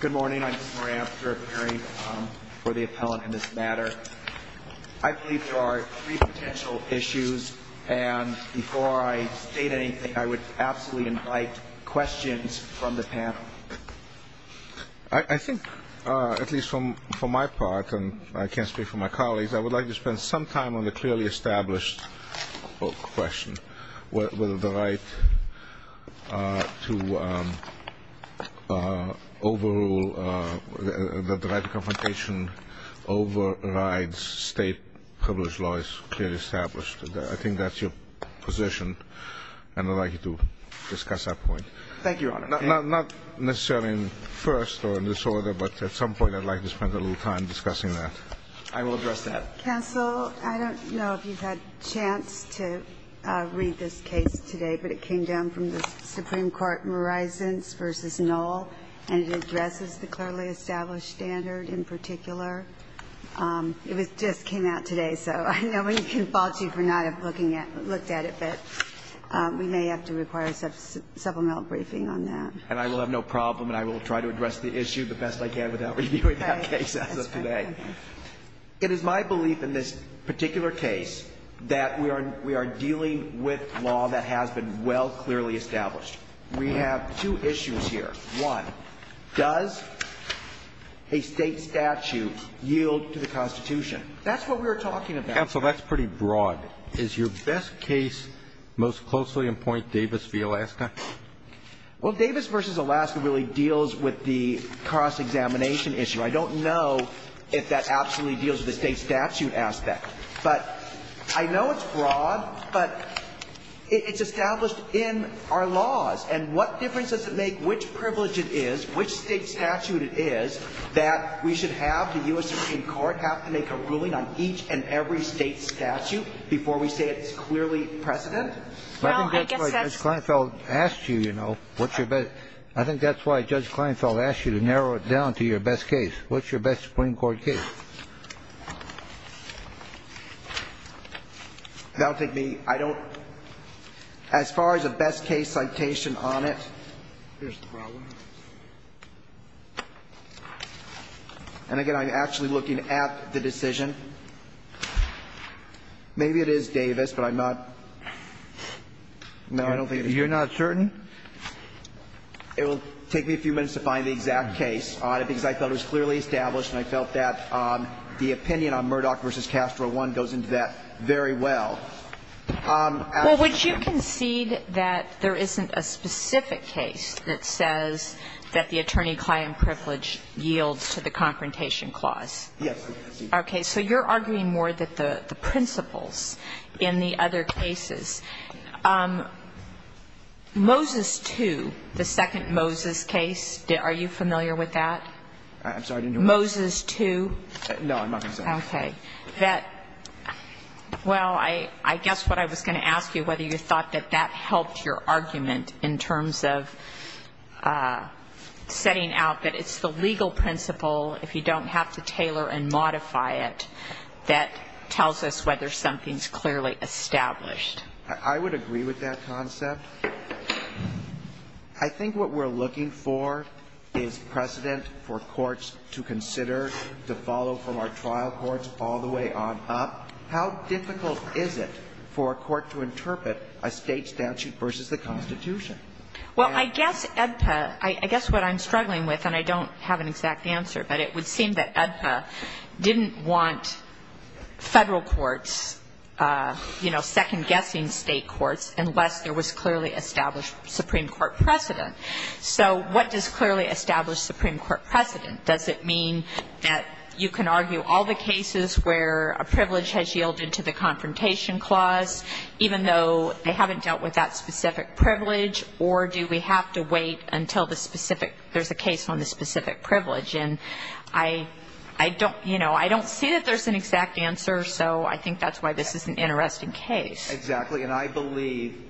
Good morning, I'm Mr. Moran for the appellant in this matter. I believe there are three potential issues, and before I state anything, I would absolutely invite questions from the panel. I think, at least from my part, and I can't speak for my colleagues, I would like to spend some time on the clearly established question, whether the right to overrule, that the right to confrontation overrides state privilege law is clearly established. I think that's your position, and I'd like you to discuss that point. Thank you, Your Honor. Not necessarily in first or in this order, but at some point I'd like to spend a little time discussing that. I will address that. Counsel, I don't know if you've had a chance to read this case today, but it came down from the Supreme Court, Morisons v. Knoll, and it addresses the clearly established standard in particular. It just came out today, so I know we can fault you for not looking at it, but we may have to require a supplemental briefing on that. And I will have no problem, and I will try to address the issue the best I can without reviewing that case as of today. It is my belief in this particular case that we are dealing with law that has been well clearly established. We have two issues here. One, does a State statute yield to the Constitution? That's what we were talking about. Counsel, that's pretty broad. Is your best case most closely in point Davis v. Alaska? Well, Davis v. Alaska really deals with the cross-examination issue. I don't know if that absolutely deals with the State statute aspect. But I know it's broad, but it's established in our laws. And what difference does it make which privilege it is, which State statute it is, that we should have the U.S. Supreme Court have to make a ruling on each and every State statute before we say it's clearly precedent? I think that's why Judge Kleinfeld asked you, you know. I think that's why Judge Kleinfeld asked you to narrow it down to your best case. What's your best Supreme Court case? That would take me ñ I don't ñ as far as a best case citation on it. Here's the problem. And, again, I'm actually looking at the decision. Maybe it is Davis, but I'm not ñ no, I don't think it is. You're not certain? It will take me a few minutes to find the exact case on it, because I thought it was clearly established and I felt that the opinion on Murdoch v. Castro 1 goes into that very well. Absolutely. Well, would you concede that there isn't a specific case that says that the attorney-client privilege yields to the Confrontation Clause? Yes, I would concede that. Okay. So you're arguing more that the principles in the other cases. Moses 2, the second Moses case, are you familiar with that? I'm sorry, I didn't hear what you said. Moses 2. No, I'm not going to say that. Okay. That ñ well, I guess what I was going to ask you, whether you thought that that helped your argument in terms of setting out that it's the legal principle, if you don't have to tailor and modify it, that tells us whether something's clearly established. I would agree with that concept. I think what we're looking for is precedent for courts to consider, to follow from our trial courts all the way on up. How difficult is it for a court to interpret a State statute versus the Constitution? Well, I guess EDPA ñ I guess what I'm struggling with, and I don't have an exact answer, but it would seem that EDPA didn't want Federal courts, you know, second guessing State courts unless there was clearly established Supreme Court precedent. So what does clearly established Supreme Court precedent? Does it mean that you can argue all the cases where a privilege has yielded to the confrontation clause, even though they haven't dealt with that specific privilege, or do we have to wait until the specific ñ there's a case on the specific privilege? And I don't ñ you know, I don't see that there's an exact answer, so I think that's why this is an interesting case. Exactly. And I believe ñ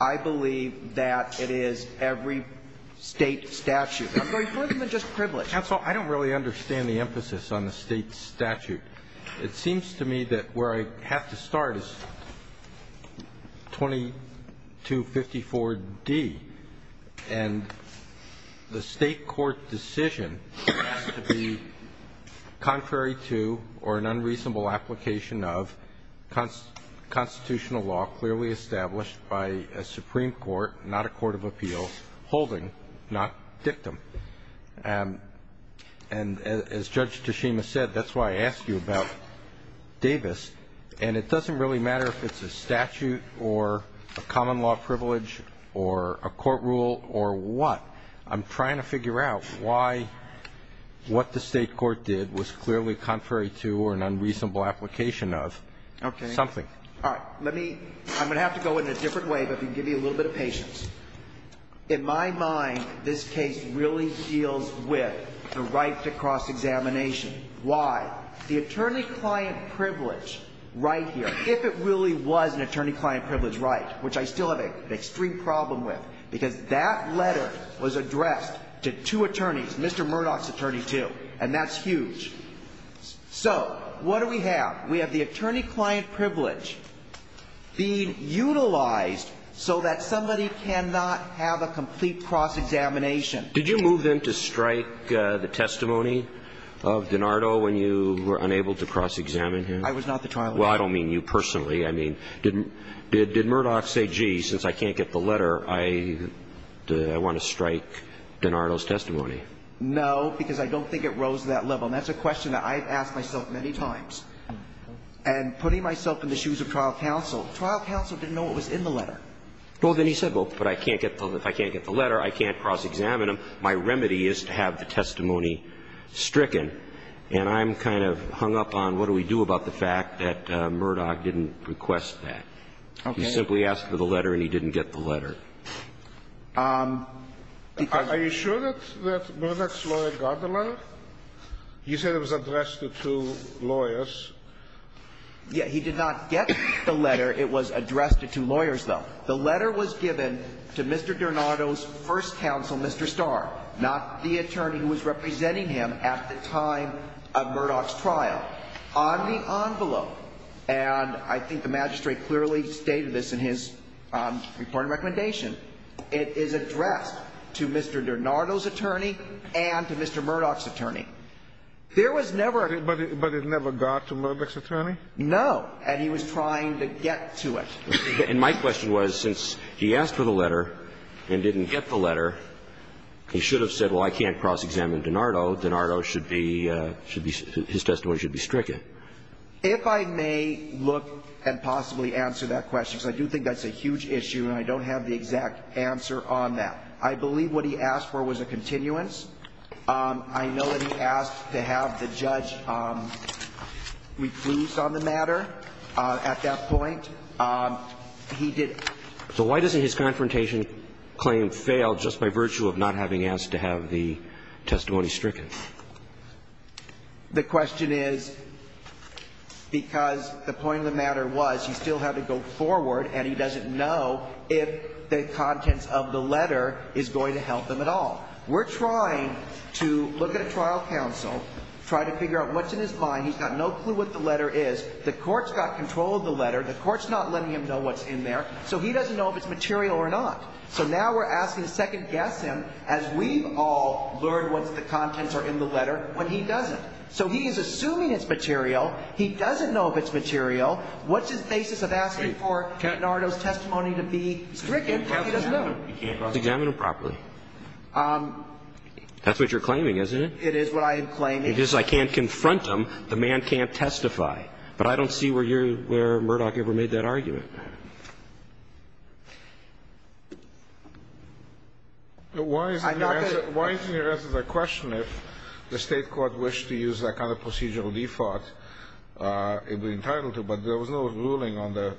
I believe that it is every State statute. I'm going further than just privilege. Counsel, I don't really understand the emphasis on the State statute. It seems to me that where I have to start is 2254d. And the State court decision has to be contrary to or an unreasonable application of constitutional law clearly established by a Supreme Court, not a court of appeal, holding, not dictum. And as Judge Tashima said, that's why I asked you about Davis. And it doesn't really matter if it's a statute or a common law privilege or a court rule or what. I'm trying to figure out why what the State court did was clearly contrary to or an unreasonable application of something. Okay. All right. Let me ñ I'm going to have to go in a different way, but to give you a little bit of patience. In my mind, this case really deals with the right to cross-examination. Why? The attorney-client privilege right here, if it really was an attorney-client privilege right, which I still have an extreme problem with, because that letter was addressed to two attorneys, Mr. Murdoch's attorney too, and that's huge. So what do we have? We have the attorney-client privilege being utilized so that somebody cannot have a complete cross-examination. Did you move in to strike the testimony of DiNardo when you were unable to cross-examine him? I was not the trial lawyer. Well, I don't mean you personally. I mean, did Murdoch say, gee, since I can't get the letter, I want to strike DiNardo's testimony? No, because I don't think it rose to that level. And that's a question that I've asked myself many times. And putting myself in the shoes of trial counsel, trial counsel didn't know what was in the letter. Well, then he said, well, but I can't get the letter. I can't cross-examine him. My remedy is to have the testimony stricken. And I'm kind of hung up on what do we do about the fact that Murdoch didn't request that. Okay. He simply asked for the letter and he didn't get the letter. Are you sure that Murdoch's lawyer got the letter? You said it was addressed to two lawyers. Yes. He did not get the letter. It was addressed to two lawyers, though. The letter was given to Mr. DiNardo's first counsel, Mr. Starr, not the attorney who was representing him at the time of Murdoch's trial. On the envelope, and I think the magistrate clearly stated this in his reporting recommendation, it is addressed to Mr. DiNardo's attorney and to Mr. Murdoch's attorney. There was never a ---- But it never got to Murdoch's attorney? No. And he was trying to get to it. And my question was, since he asked for the letter and didn't get the letter, he should have said, well, I can't cross-examine DiNardo. DiNardo should be, his testimony should be stricken. If I may look and possibly answer that question, because I do think that's a huge issue and I don't have the exact answer on that. I believe what he asked for was a continuance. I know that he asked to have the judge recluse on the matter at that point. He did ---- So why doesn't his confrontation claim fail just by virtue of not having asked to have the testimony stricken? The question is because the point of the matter was he still had to go forward and he doesn't know if the contents of the letter is going to help him at all. We're trying to look at a trial counsel, try to figure out what's in his mind. He's got no clue what the letter is. The court's got control of the letter. The court's not letting him know what's in there. So he doesn't know if it's material or not. So now we're asking to second-guess him as we've all learned what the contents are in the letter when he doesn't. So he is assuming it's material. He doesn't know if it's material. What's his basis of asking for Nardo's testimony to be stricken when he doesn't know? He can't process it. He can't examine it properly. That's what you're claiming, isn't it? It is what I am claiming. It is. I can't confront him. The man can't testify. But I don't see where you're ---- where Murdoch ever made that argument. I'm not going to ---- Why isn't your answer ---- why isn't your answer the question if the State court wished to use that kind of procedural default, it would be entitled to, but there was no ruling on the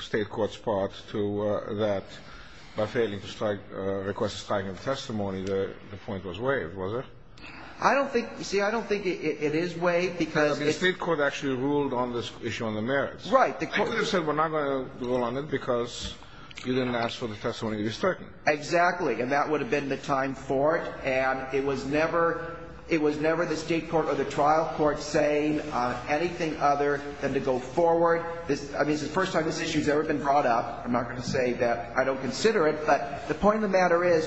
State court's part to that by failing to request a striking testimony, the point was waived, was it? I don't think ---- you see, I don't think it is waived because ---- The State court actually ruled on this issue on the merits. Right. The court ---- I thought you said we're not going to rule on it because you didn't ask for the testimony to be stricken. Exactly. And that would have been the time for it. And it was never, it was never the State court or the trial court saying anything other than to go forward. I mean, this is the first time this issue has ever been brought up. I'm not going to say that I don't consider it, but the point of the matter is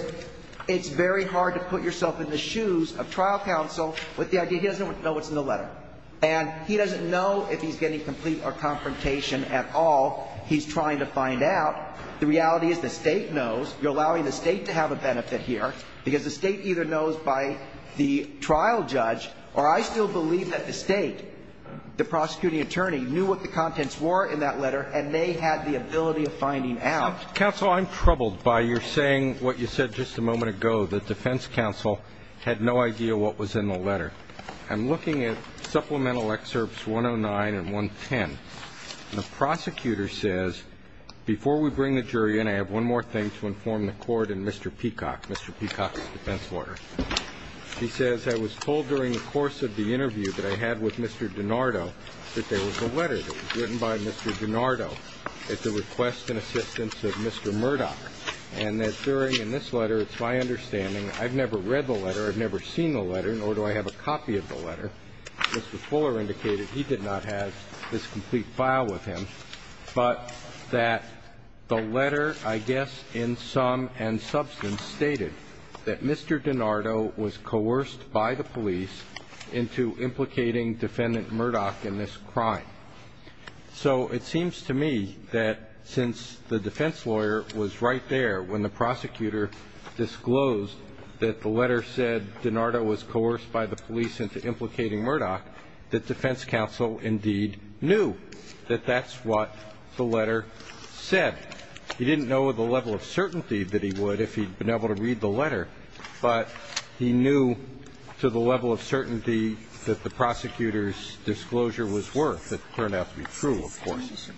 it's very hard to put yourself in the shoes of trial counsel with the idea he doesn't know what's in the letter. And he doesn't know if he's getting complete or confrontation at all. He's trying to find out. The reality is the State knows. You're allowing the State to have a benefit here because the State either knows by the trial judge or I still believe that the State, the prosecuting attorney, knew what the contents were in that letter and they had the ability of finding out. Counsel, I'm troubled by your saying what you said just a moment ago, that defense counsel had no idea what was in the letter. I'm looking at supplemental excerpts 109 and 110. The prosecutor says, before we bring the jury in, I have one more thing to inform the court in Mr. Peacock, Mr. Peacock's defense lawyer. He says, I was told during the course of the interview that I had with Mr. DiNardo that there was a letter that was written by Mr. DiNardo at the request and assistance of Mr. Murdock, and that during this letter, it's my understanding I've never read the letter, I've never seen the letter, nor do I have a copy of the letter. But Mr. Fuller indicated he did not have this complete file with him, but that the letter, I guess in sum and substance, stated that Mr. DiNardo was coerced by the police into implicating Defendant Murdock in this crime. So it seems to me that since the defense lawyer was right there when the prosecutor disclosed that the letter said DiNardo was coerced by the police into implicating Murdock, that defense counsel indeed knew that that's what the letter said. He didn't know the level of certainty that he would if he'd been able to read the letter, but he knew to the level of certainty that the prosecutor's disclosure was worth. It turned out to be true, of course.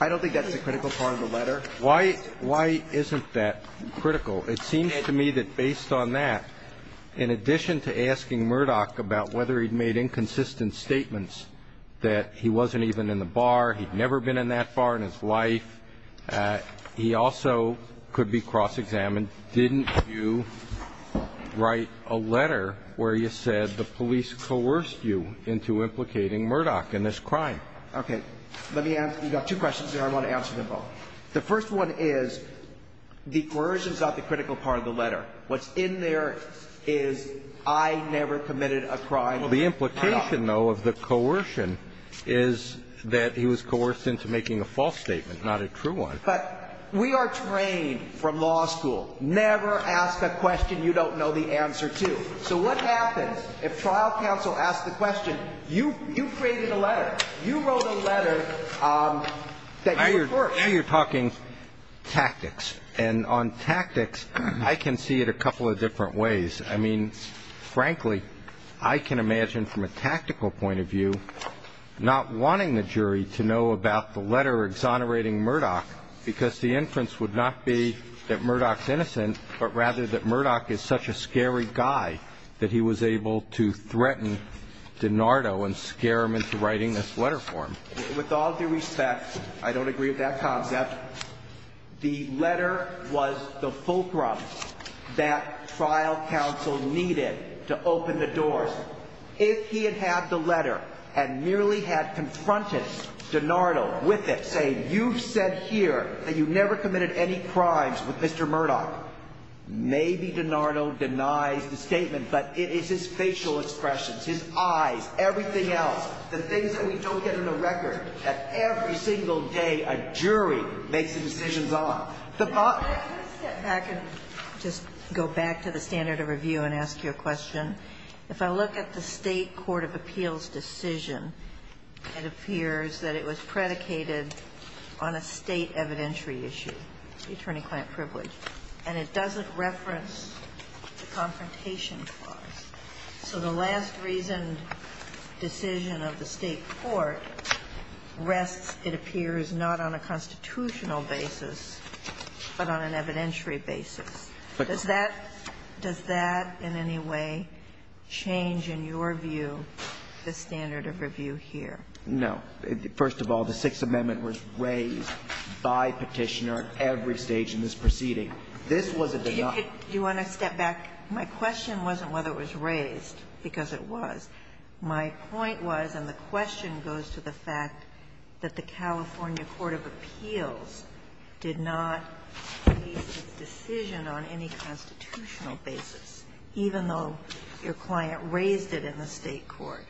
I don't think that's a critical part of the letter. Why isn't that critical? It seems to me that based on that, in addition to asking Murdock about whether he'd made inconsistent statements that he wasn't even in the bar, he'd never been in that bar in his life, he also could be cross-examined. Didn't you write a letter where you said the police coerced you into implicating Murdock in this crime? Okay. Let me answer. You've got two questions there I want to answer them both. The first one is the coercion is not the critical part of the letter. What's in there is I never committed a crime. Well, the implication, though, of the coercion is that he was coerced into making a false statement, not a true one. But we are trained from law school. Never ask a question you don't know the answer to. So what happens if trial counsel asks the question, you created a letter, you wrote a letter that you were first. Now you're talking tactics. And on tactics, I can see it a couple of different ways. I mean, frankly, I can imagine from a tactical point of view not wanting the jury to know about the letter exonerating Murdock because the inference would not be that Murdock's innocent, but rather that Murdock is such a scary guy that he was able to threaten DiNardo and scare him into writing this letter for him. With all due respect, I don't agree with that concept. The letter was the fulcrum that trial counsel needed to open the doors. If he had had the letter and merely had confronted DiNardo with it, say, you've said here that you never committed any crimes with Mr. Murdock, maybe DiNardo denies the statement, but it is his facial expressions, his eyes, everything else, the things that we don't get on the record, that every single day a jury makes the decisions on. The bottom line is that I can just go back to the standard of review and ask you a question. If I look at the State court of appeals decision, it appears that it was predicated on a State evidentiary issue, attorney-client privilege, and it doesn't reference the confrontation clause. So the last reasoned decision of the State court rests, it appears, not on a constitutional basis, but on an evidentiary basis. Does that in any way change in your view the standard of review here? No. First of all, the Sixth Amendment was raised by Petitioner at every stage in this proceeding. This was a denial. Do you want to step back? My question wasn't whether it was raised, because it was. My point was, and the question goes to the fact that the California court of appeals did not make this decision on any constitutional basis, even though your client raised it in the State court.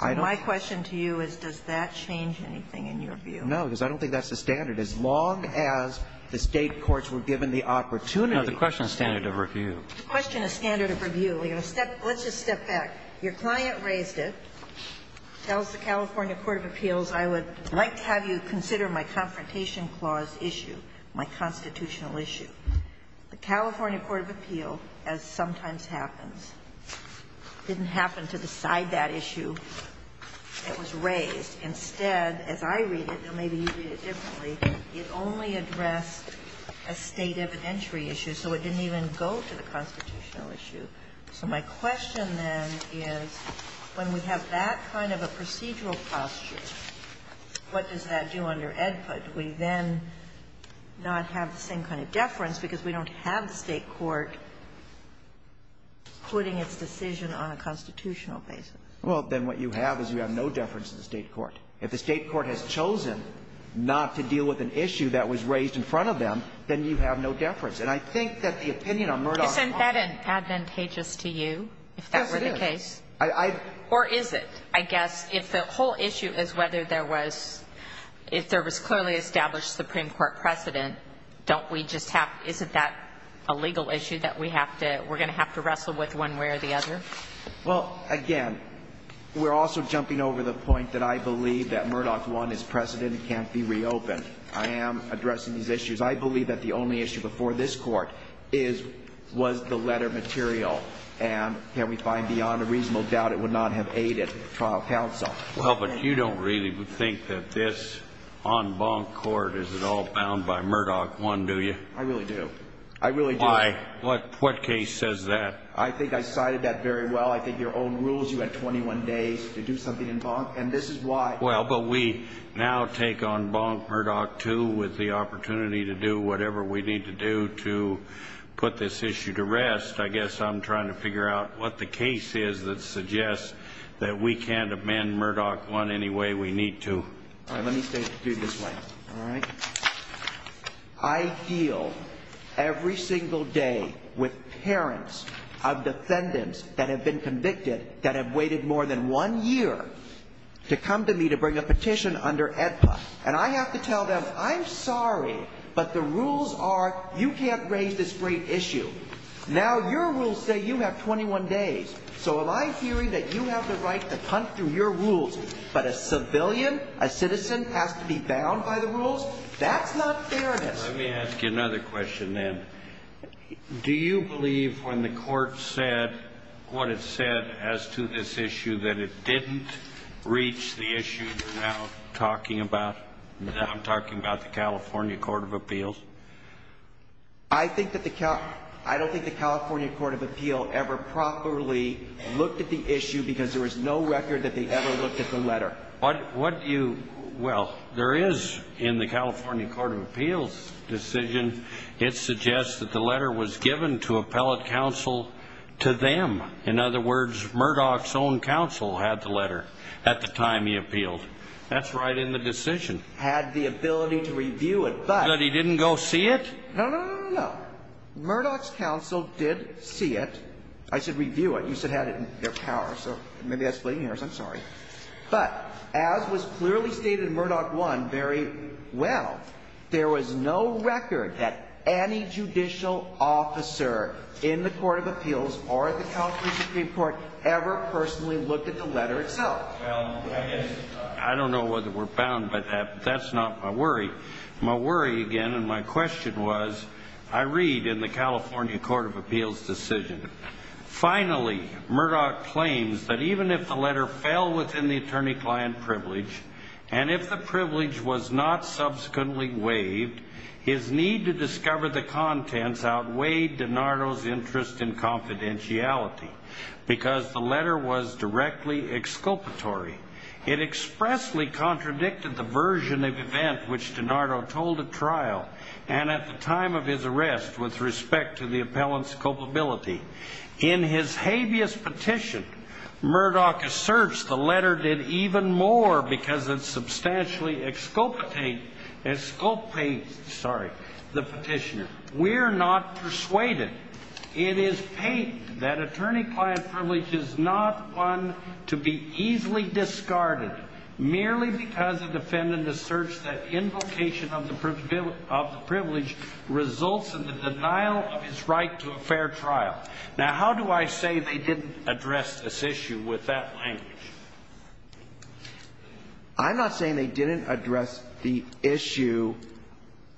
My question to you is, does that change anything in your view? No, because I don't think that's the standard. As long as the State courts were given the opportunity to standard review. No, the question is standard of review. Let's just step back. Your client raised it, tells the California court of appeals, I would like to have you consider my confrontation clause issue, my constitutional issue. The California court of appeals, as sometimes happens, didn't happen to decide that issue. It was raised. Instead, as I read it, and maybe you read it differently, it only addressed a State evidentiary issue. So it didn't even go to the constitutional issue. So my question, then, is when we have that kind of a procedural posture, what does that do under AEDPA? Do we then not have the same kind of deference because we don't have the State court putting its decision on a constitutional basis? Well, then what you have is you have no deference to the State court. If the State court has chosen not to deal with an issue that was raised in front of them, then you have no deference. And I think that the opinion on Murdoch- Isn't that advantageous to you, if that were the case? Yes, it is. Or is it? I guess if the whole issue is whether there was, if there was clearly established Supreme Court precedent, don't we just have, isn't that a legal issue that we have to, we're going to have to wrestle with one way or the other? Well, again, we're also jumping over the point that I believe that Murdoch 1 is precedent and can't be reopened. I am addressing these issues. I believe that the only issue before this court is, was the letter material, and can we find beyond a reasonable doubt it would not have aided trial counsel. Well, but you don't really think that this en banc court is at all bound by Murdoch 1, do you? I really do. I really do. Why? What case says that? I think I cited that very well. I think your own rules, you had 21 days to do something en banc, and this is why. Well, but we now take en banc Murdoch 2 with the opportunity to do whatever we need to do to put this issue to rest. I guess I'm trying to figure out what the case is that suggests that we can't amend Murdoch 1 any way we need to. All right. Let me say it this way. All right. I deal every single day with parents of defendants that have been convicted that have waited more than one year to come to me to bring a petition under ENPA, and I have to tell them I'm sorry, but the rules are you can't raise this great issue. Now, your rules say you have 21 days, so am I hearing that you have the right to punt through your rules, but a civilian, a citizen, has to be bound by the rules? That's not fairness. Let me ask you another question, then. Do you believe when the court said what it said as to this issue that it didn't reach the issue you're now talking about, now I'm talking about the California Court of Appeals? I don't think the California Court of Appeals ever properly looked at the issue because there was no record that they ever looked at the letter. Well, there is in the California Court of Appeals decision. It suggests that the letter was given to appellate counsel to them. In other words, Murdoch's own counsel had the letter at the time he appealed. That's right in the decision. Had the ability to review it, but... But he didn't go see it? No, no, no, no, no, no. Murdoch's counsel did see it. I said review it. You said had it in their power, so maybe that's splitting hairs. I'm sorry. But as was clearly stated in Murdoch 1 very well, there was no record that any judicial officer in the Court of Appeals or at the California Supreme Court ever personally looked at the letter itself. Well, I guess I don't know whether we're bound by that, but that's not my worry. My worry, again, and my question was, I read in the California Court of Appeals Finally, Murdoch claims that even if the letter fell within the attorney-client privilege, and if the privilege was not subsequently waived, his need to discover the contents outweighed DiNardo's interest in confidentiality because the letter was directly exculpatory. It expressly contradicted the version of event which DiNardo told at trial, and at the time of his arrest with respect to the appellant's culpability. In his habeas petition, Murdoch asserts the letter did even more because it substantially exculpates the petitioner. We're not persuaded. It is pained that attorney-client privilege is not one to be easily discarded merely because a defendant asserts that invocation of the privilege results in the denial of his right to a fair trial. Now, how do I say they didn't address this issue with that language? I'm not saying they didn't address the issue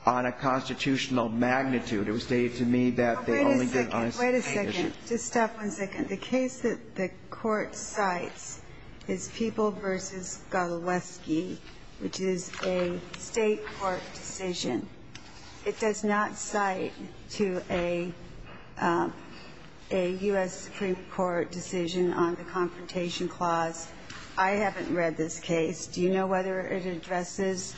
on a constitutional magnitude. It was stated to me that they only did on a state issue. Wait a second. Just stop one second. The case that the Court cites is People v. Goloweski, which is a State court decision. It does not cite to a U.S. Supreme Court decision on the Confrontation Clause. I haven't read this case. Do you know whether it addresses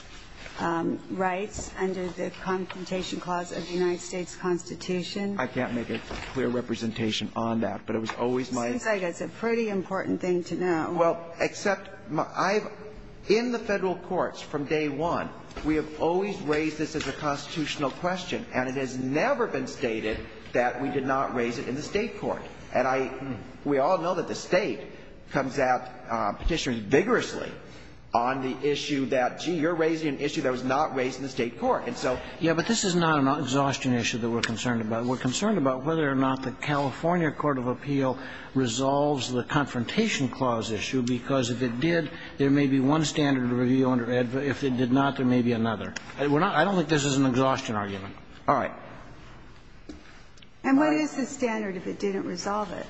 rights under the Confrontation Clause of the United States Constitution? I can't make a clear representation on that, but it was always my idea. It seems like it's a pretty important thing to know. Well, except I've, in the Federal courts from day one, we have always raised this as a constitutional question, and it has never been stated that we did not raise it in the State court. And I, we all know that the State comes out petitioning vigorously on the issue that, gee, you're raising an issue that was not raised in the State court. And so we're not bound by the rule. And so, you know, this is not an exhaustion issue that we're concerned about. We're concerned about whether or not the California court of appeal resolves the Confrontation Clause issue, because if it did, there may be one standard of review under AEDPA. If it did not, there may be another. I don't think this is an exhaustion argument. All right. And what is the standard if it didn't resolve it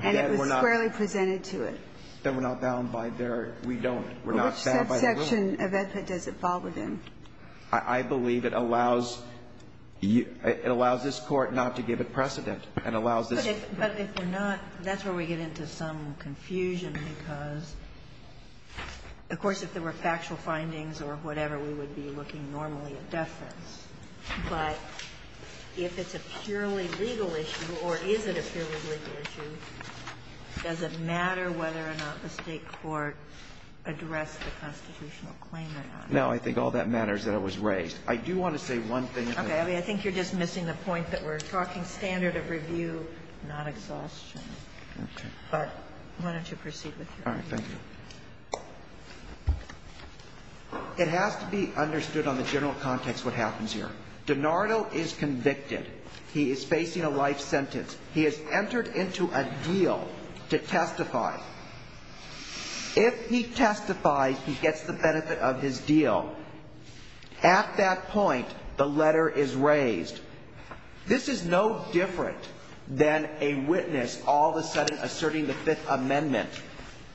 and it was squarely presented to it? That we're not bound by their we don't. We're not bound by the rule. Which subsection of AEDPA does it fall within? I believe it allows you, it allows this Court not to give it precedent. It allows this. But if we're not, that's where we get into some confusion, because, of course, if there were factual findings or whatever, we would be looking normally at deference. But if it's a purely legal issue, or is it a purely legal issue, does it matter whether or not the State court addressed the constitutional claim or not? No, I think all that matters is that it was raised. I do want to say one thing. Okay. I mean, I think you're just missing the point that we're talking standard of review, not exhaustion. Okay. But why don't you proceed with your argument? All right. Thank you. It has to be understood on the general context what happens here. DiNardo is convicted. He is facing a life sentence. He has entered into a deal to testify. If he testifies, he gets the benefit of his deal. At that point, the letter is raised. This is no different than a witness all of a sudden asserting the Fifth Amendment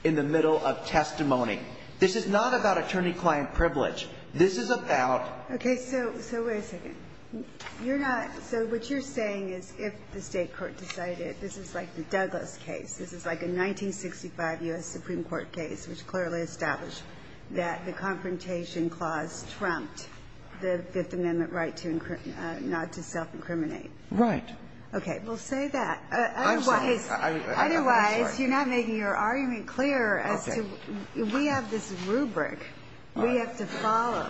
in the middle of testimony. This is not about attorney-client privilege. This is about the State court. Okay. So wait a second. You're not so what you're saying is if the State court decided, this is like the Douglas case. This is like a 1965 U.S. Supreme Court case which clearly established that the confrontation clause trumped the Fifth Amendment right not to self-incriminate. Right. Okay. Well, say that. I'm sorry. Otherwise, you're not making your argument clear as to we have this rubric. We have to follow.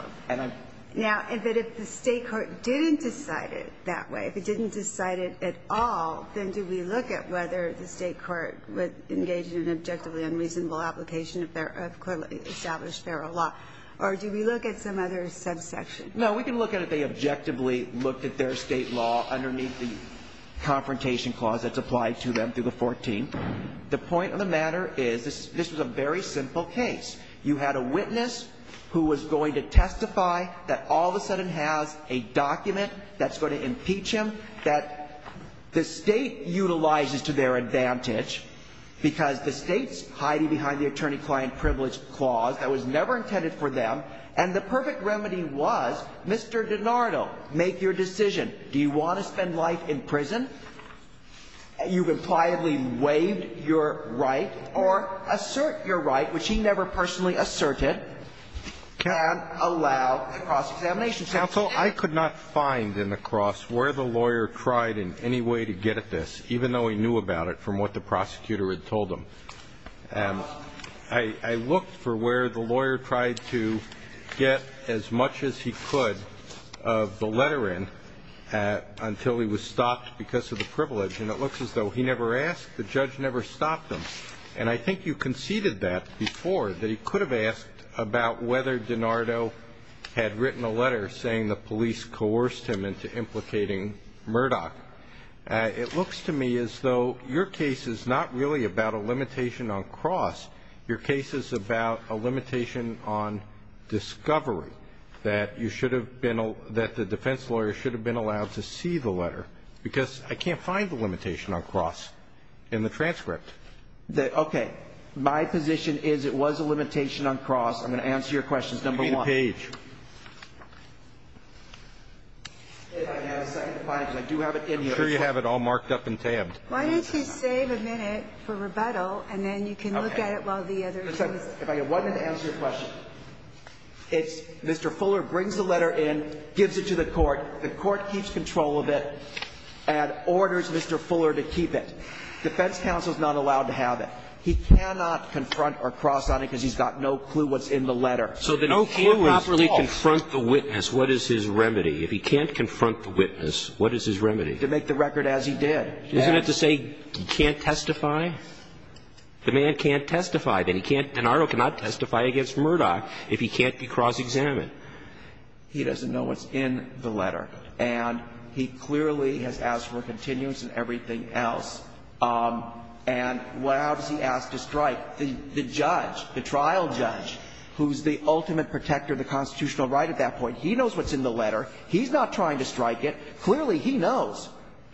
Now, if the State court didn't decide it that way, if it didn't decide it at all, then do we look at whether the State court would engage in an objectively unreasonable application of clearly established feral law? Or do we look at some other subsection? No, we can look at if they objectively looked at their State law underneath the confrontation clause that's applied to them through the 14th. The point of the matter is this was a very simple case. You had a witness who was going to testify that all of a sudden has a document that's going to impeach him that the State utilizes to their advantage because the State's hiding behind the attorney-client privilege clause that was never intended for them. And the perfect remedy was Mr. DiNardo, make your decision. Do you want to spend life in prison? You've impliedly waived your right or assert your right, which he never personally asserted, can allow a cross-examination. Counsel, I could not find in the cross where the lawyer tried in any way to get at this, even though he knew about it from what the prosecutor had told him. I looked for where the lawyer tried to get as much as he could of the letter in until he was stopped because of the privilege, and it looks as though he never asked. The judge never stopped him. And I think you conceded that before, that he could have asked about whether DiNardo had written a letter saying the police coerced him into implicating Murdoch. It looks to me as though your case is not really about a limitation on cross. Your case is about a limitation on discovery, that the defense lawyer should have been allowed to see the letter because I can't find the limitation on cross in the transcript. Okay. My position is it was a limitation on cross. I'm going to answer your questions, number one. Give me the page. I have a second to find it because I do have it in here. I'm sure you have it all marked up and tabbed. Why don't you save a minute for rebuttal, and then you can look at it while the others answer. Okay. If I could have one minute to answer your question. It's Mr. Fuller brings the letter in, gives it to the Court, the Court keeps control of it, and orders Mr. Fuller to keep it. Defense counsel is not allowed to have it. He cannot confront or cross on it because he's got no clue what's in the letter. So the no clue is, if he can't properly confront the witness, what is his remedy? If he can't confront the witness, what is his remedy? To make the record as he did. Isn't it to say he can't testify? The man can't testify. Then he can't, Denardo cannot testify against Murdoch if he can't be cross-examined. He doesn't know what's in the letter. And he clearly has asked for continuance and everything else. And what else has he asked to strike? The judge, the trial judge, who's the ultimate protector of the constitutional right at that point, he knows what's in the letter. He's not trying to strike it. Clearly, he knows.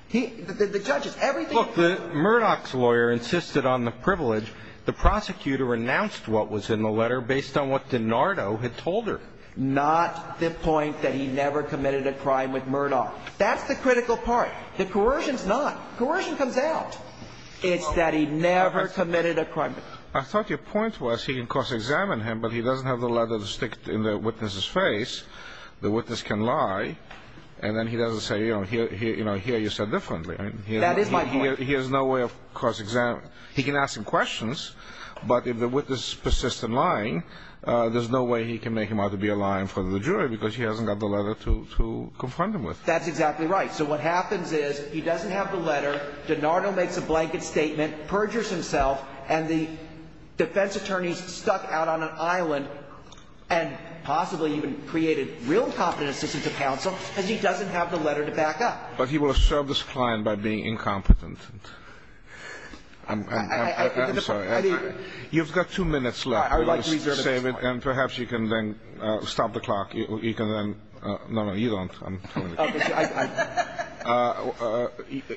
He, the judges, everything. Look, Murdoch's lawyer insisted on the privilege. The prosecutor announced what was in the letter based on what Denardo had told her. Not the point that he never committed a crime with Murdoch. That's the critical part. The coercion's not. Coercion comes out. It's that he never committed a crime. I thought your point was he can cross-examine him, but he doesn't have the letter to stick in the witness's face. The witness can lie. And then he doesn't say, you know, here you said differently. That is my point. He has no way of cross-examining. He can ask him questions, but if the witness persists in lying, there's no way he can make him out to be a liar in front of the jury because he hasn't got the letter to confront him with. That's exactly right. So what happens is he doesn't have the letter. Denardo makes a blanket statement, perjures himself, and the defense attorney's stuck out on an island and possibly even created real incompetent assistance to counsel because he doesn't have the letter to back up. But he will serve this client by being incompetent. I'm sorry. You've got two minutes left. I would like to reserve it. And perhaps you can then stop the clock. You can then no, no, you don't.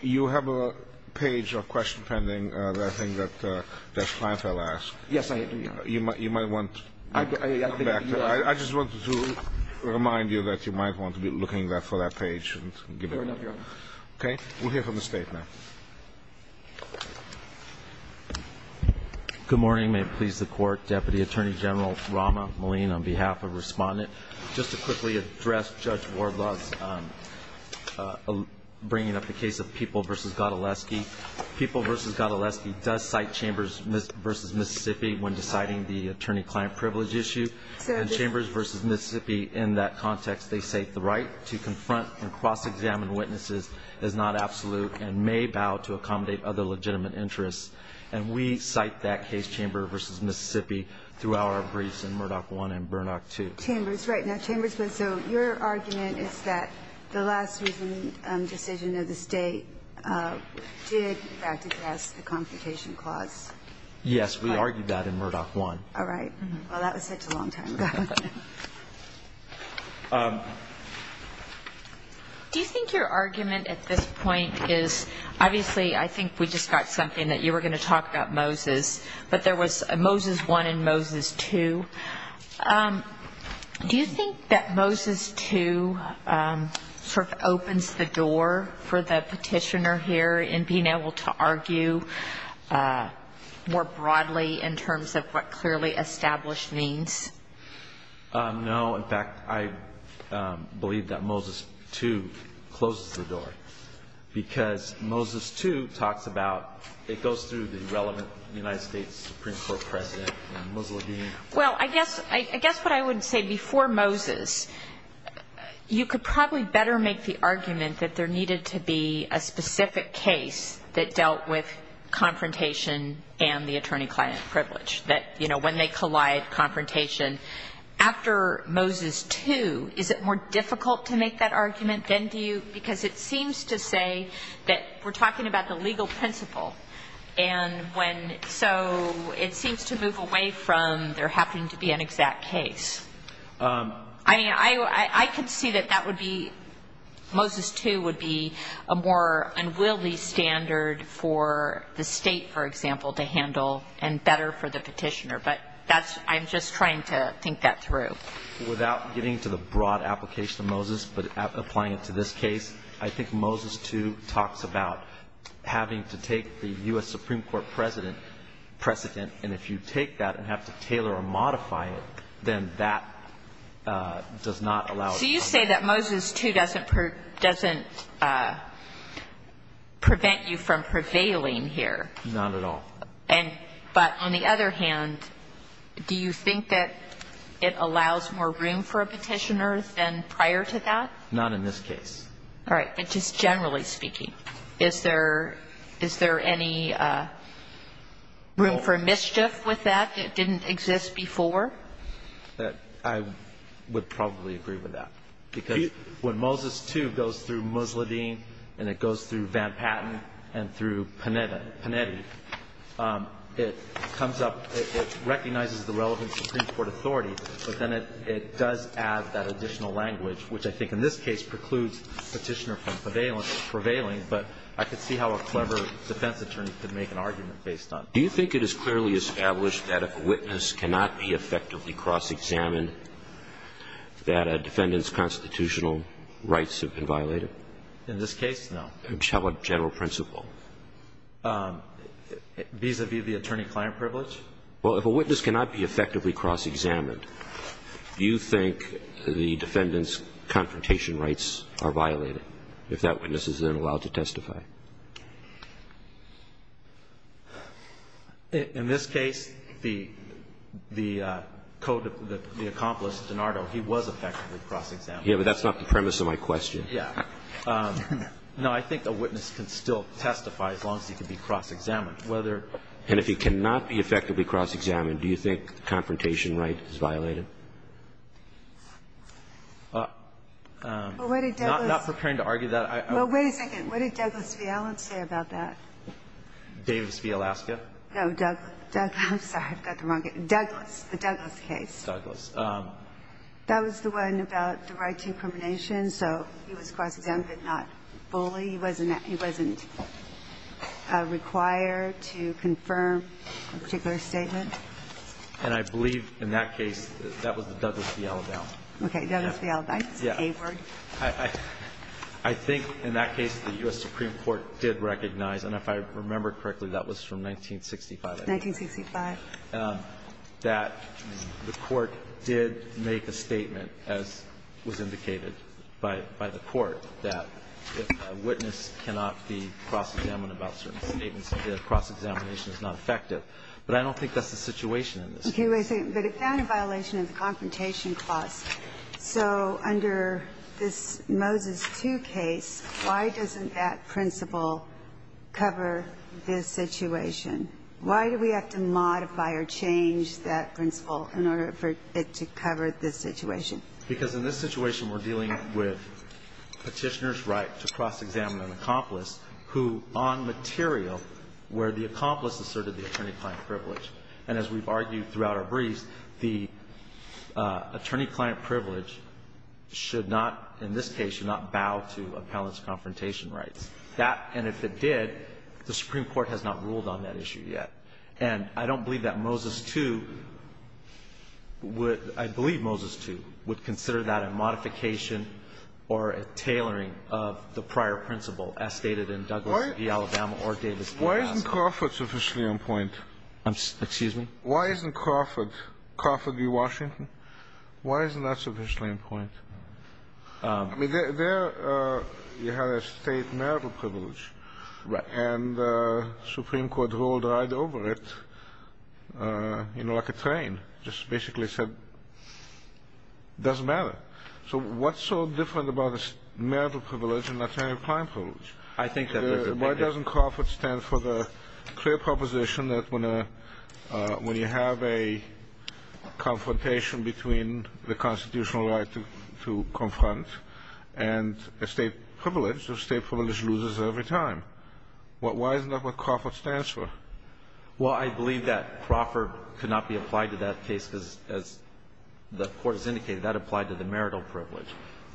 You have a page or question pending that I think that Judge Kleinfeld asked. Yes, I do, Your Honor. You might want to come back to that. I just wanted to remind you that you might want to be looking for that page. Fair enough, Your Honor. Okay. We'll hear from the State now. Good morning. May it please the Court. Deputy Attorney General Rahma Maleen on behalf of Respondent. Just to quickly address Judge Ward-Lutz bringing up the case of People v. Godleski. People v. Godleski does cite Chambers v. Mississippi when deciding the attorney-client privilege issue. And Chambers v. Mississippi, in that context, they say, the right to confront and cross-examine witnesses is not absolute and may bow to accommodate other legitimate interests. And we cite that case, Chamber v. Mississippi, throughout our briefs in Murdoch I and Burnock II. Chambers, right. Now, Chambers, so your argument is that the last decision of the State did, in fact, address the confrontation clause. Yes, we argued that in Murdoch I. All right. Well, that was such a long time ago. Do you think your argument at this point is, obviously, I think we just got something that you were going to talk about Moses, but there was Moses I and Moses II. Do you think that Moses II sort of opens the door for the petitioner here in being able to argue more broadly in terms of what clearly established means? No. In fact, I believe that Moses II closes the door because Moses II talks about how it goes through the relevant United States Supreme Court president, and Mussolini. Well, I guess what I would say before Moses, you could probably better make the argument that there needed to be a specific case that dealt with confrontation and the attorney-client privilege, that, you know, when they collide, confrontation. After Moses II, is it more difficult to make that argument? Because it seems to say that we're talking about the legal principle, and so it seems to move away from there having to be an exact case. I mean, I could see that that would be, Moses II would be a more unwieldy standard for the state, for example, to handle and better for the petitioner. But I'm just trying to think that through. Without getting to the broad application of Moses, but applying it to this case, I think Moses II talks about having to take the U.S. Supreme Court president precedent, and if you take that and have to tailor or modify it, then that does not allow it to come back. So you say that Moses II doesn't prevent you from prevailing here? Not at all. But on the other hand, do you think that it allows more room for a petitioner than prior to that? Not in this case. All right. But just generally speaking, is there any room for mischief with that that didn't exist before? I would probably agree with that. Because when Moses II goes through Musladeen and it goes through Van Patten and it goes through Panetti, it comes up, it recognizes the relevant Supreme Court authority, but then it does add that additional language, which I think in this case precludes Petitioner from prevailing. But I could see how a clever defense attorney could make an argument based on it. Do you think it is clearly established that if a witness cannot be effectively cross-examined, that a defendant's constitutional rights have been violated? In this case, no. How about general principle? Vis-à-vis the attorney-client privilege? Well, if a witness cannot be effectively cross-examined, do you think the defendant's confrontation rights are violated if that witness is then allowed to testify? In this case, the accomplice, DiNardo, he was effectively cross-examined. Yeah, but that's not the premise of my question. Yeah. No, I think a witness can still testify as long as he can be cross-examined. And if he cannot be effectively cross-examined, do you think the confrontation right is violated? Not preparing to argue that. Well, wait a second. What did Douglas v. Allen say about that? Davis v. Alaska? No, Douglas. I'm sorry. I've got the wrong guy. Douglas. The Douglas case. Douglas. That was the one about the right to incrimination, so he was cross-examined but not fully. He wasn't required to confirm a particular statement. And I believe in that case that was the Douglas v. Allendale. Okay. Douglas v. Allendale. It's an A word. I think in that case the U.S. Supreme Court did recognize, and if I remember correctly, that was from 1965. 1965. That the Court did make a statement, as was indicated by the Court, that if a witness cannot be cross-examined about certain statements, the cross-examination is not effective. But I don't think that's the situation in this case. Okay. Wait a second. But it found a violation of the confrontation clause. So under this Moses II case, why doesn't that principle cover this situation? Why do we have to modify or change that principle in order for it to cover this situation? Because in this situation we're dealing with Petitioner's right to cross-examine an accomplice who on material where the accomplice asserted the attorney-client privilege. And as we've argued throughout our briefs, the attorney-client privilege should not, in this case, should not bow to appellant's confrontation rights. That, and if it did, the Supreme Court has not ruled on that issue yet. And I don't believe that Moses II would – I believe Moses II would consider that a modification or a tailoring of the prior principle, as stated in Douglas v. Alabama or Davis v. Plaza. Why isn't Crawford sufficiently in point? Excuse me? Why isn't Crawford – Crawford v. Washington? Why isn't that sufficiently in point? I mean, there you had a state marital privilege. Right. And the Supreme Court ruled right over it, you know, like a train. Just basically said it doesn't matter. So what's so different about a marital privilege and attorney-client privilege? I think that – Why doesn't Crawford stand for the clear proposition that when you have a constitutional right to confront and a state privilege, the state privilege loses every time. Why isn't that what Crawford stands for? Well, I believe that Crawford could not be applied to that case because, as the Court has indicated, that applied to the marital privilege.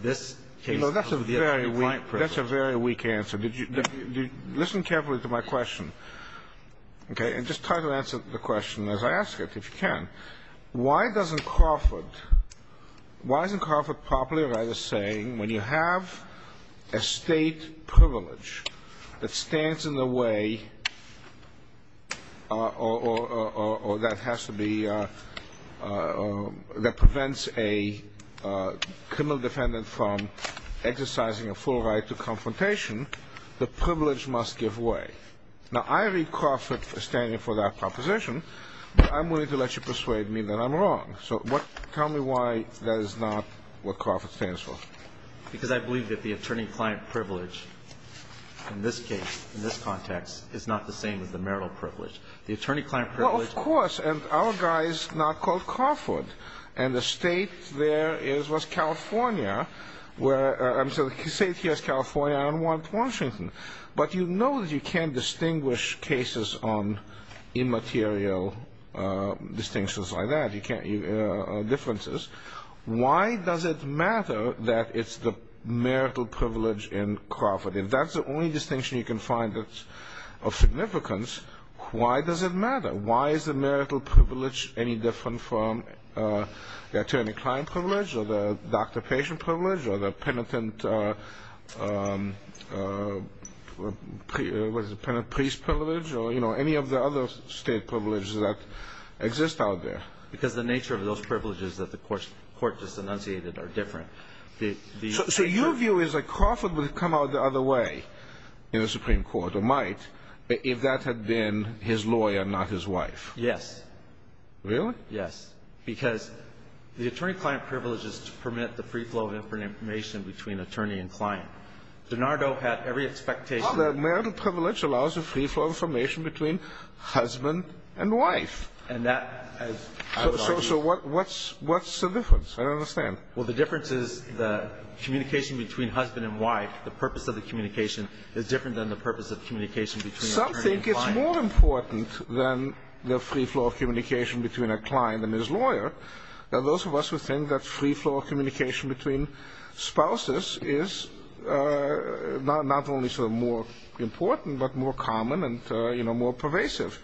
This case – You know, that's a very weak – Attorney-client privilege. That's a very weak answer. Listen carefully to my question, okay? And just try to answer the question as I ask it, if you can. Why doesn't Crawford – Why isn't Crawford properly or rightly saying when you have a state privilege that stands in the way or that has to be – that prevents a criminal defendant from exercising a full right to confrontation, the privilege must give way? Now, I read Crawford standing for that proposition. I'm willing to let you persuade me that I'm wrong. So tell me why that is not what Crawford stands for. Because I believe that the attorney-client privilege in this case, in this context, is not the same as the marital privilege. The attorney-client privilege – Well, of course. And our guy is not called Crawford. And the state there is West California, where – I'm sorry. The state here is California. I don't want Washington. But you know that you can't distinguish cases on immaterial distinctions like that. You can't – differences. Why does it matter that it's the marital privilege in Crawford? If that's the only distinction you can find that's of significance, why does it matter? Why is the marital privilege any different from the attorney-client privilege or the doctor-patient privilege or the penitent – what is it, penitent-priest privilege or, you know, any of the other state privileges that exist out there? Because the nature of those privileges that the Court just enunciated are different. So your view is that Crawford would have come out the other way in the Supreme Court, or might, if that had been his lawyer, not his wife. Yes. Really? Yes. Because the attorney-client privilege is to permit the free flow of information between attorney and client. DiNardo had every expectation – The marital privilege allows a free flow of information between husband and wife. And that has – So what's the difference? I don't understand. Well, the difference is the communication between husband and wife, the purpose of the communication, is different than the purpose of communication between attorney and client. I think it's more important than the free flow of communication between a client and his lawyer that those of us who think that free flow of communication between spouses is not only sort of more important, but more common and, you know, more pervasive,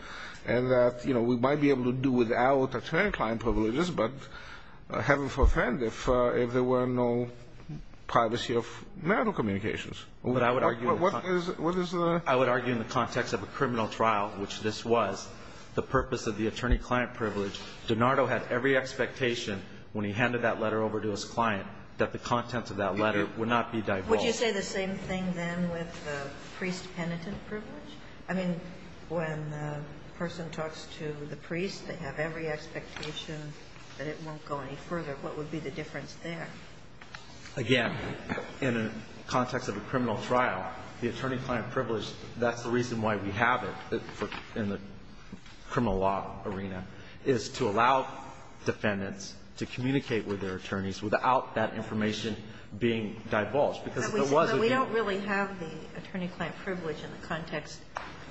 and that, you know, we might be able to do without attorney-client privileges, but heaven-forbid if there were no privacy of marital communications. But I would argue – What is the – I would argue in the context of a criminal trial, which this was, the purpose of the attorney-client privilege, DiNardo had every expectation when he handed that letter over to his client that the contents of that letter would not be divulged. Would you say the same thing then with the priest-penitent privilege? I mean, when a person talks to the priest, they have every expectation that it won't go any further. What would be the difference there? Again, in the context of a criminal trial, the attorney-client privilege, that's the reason why we have it in the criminal law arena, is to allow defendants to communicate with their attorneys without that information being divulged, because if it wasn't – But we don't really have the attorney-client privilege in the context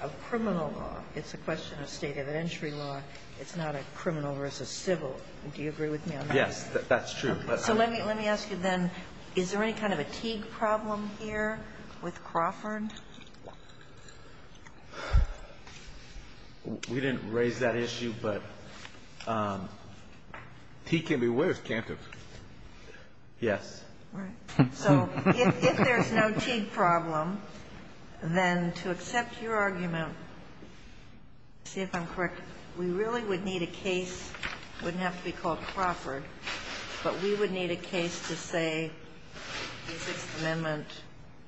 of criminal law. It's a question of State of the Entry law. It's not a criminal versus civil. Do you agree with me on that? Yes, that's true. So let me ask you then, is there any kind of a Teague problem here with Crawford? We didn't raise that issue, but Teague can be with Cantor. Yes. All right. So if there's no Teague problem, then to accept your argument, to see if I'm correct, we really would need a case, wouldn't have to be called Crawford, but we would need a case to say the Sixth Amendment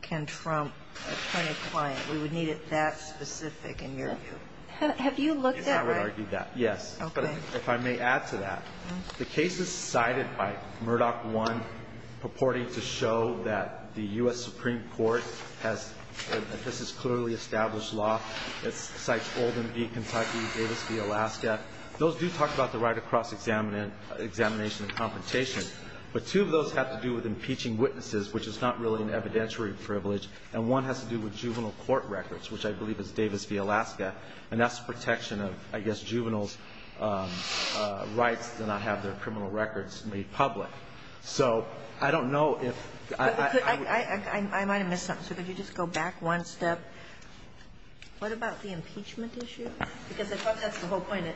can trump attorney-client. We would need it that specific, in your view. Have you looked at that? I would argue that, yes. Okay. But if I may add to that, the cases cited by Murdoch I purporting to show that the U.S. Supreme Court has – this is clearly established law. It cites Oldham v. Kentucky, Davis v. Alaska. Those do talk about the right of cross-examination and confrontation, but two of those have to do with impeaching witnesses, which is not really an evidentiary privilege, and one has to do with juvenile court records, which I believe is Davis v. Alaska, and that's protection of, I guess, juveniles' rights to not have their criminal records made public. So I don't know if I would – If I could go back one step. What about the impeachment issue? Because I thought that's the whole point.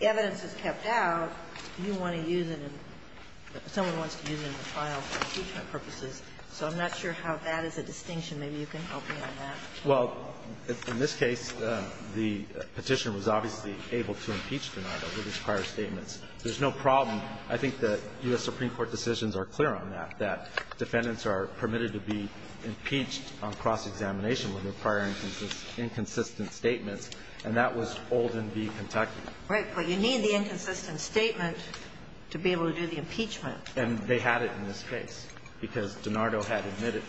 Evidence is kept out. You want to use it in – someone wants to use it in a file for impeachment purposes. So I'm not sure how that is a distinction. Maybe you can help me on that. Well, in this case, the Petitioner was obviously able to impeach the matter with his prior statements. There's no problem. I think the U.S. Supreme Court decisions are clear on that, that defendants are permitted to be impeached on cross-examination with their prior inconsistent statements, and that was Olden v. Kentucky. Right. But you need the inconsistent statement to be able to do the impeachment. And they had it in this case, because DiNardo had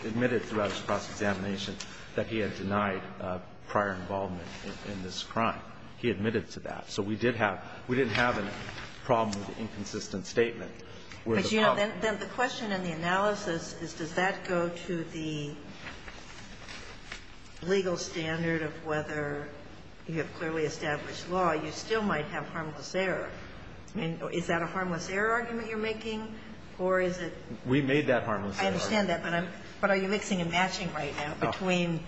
admitted throughout his cross-examination that he had denied prior involvement in this crime. He admitted to that. So we did have – we didn't have a problem with the inconsistent statement. But, you know, then the question in the analysis is, does that go to the legal standard of whether you have clearly established law? You still might have harmless error. I mean, is that a harmless error argument you're making, or is it – We made that harmless error argument. I understand that, but I'm – but are you mixing and matching right now between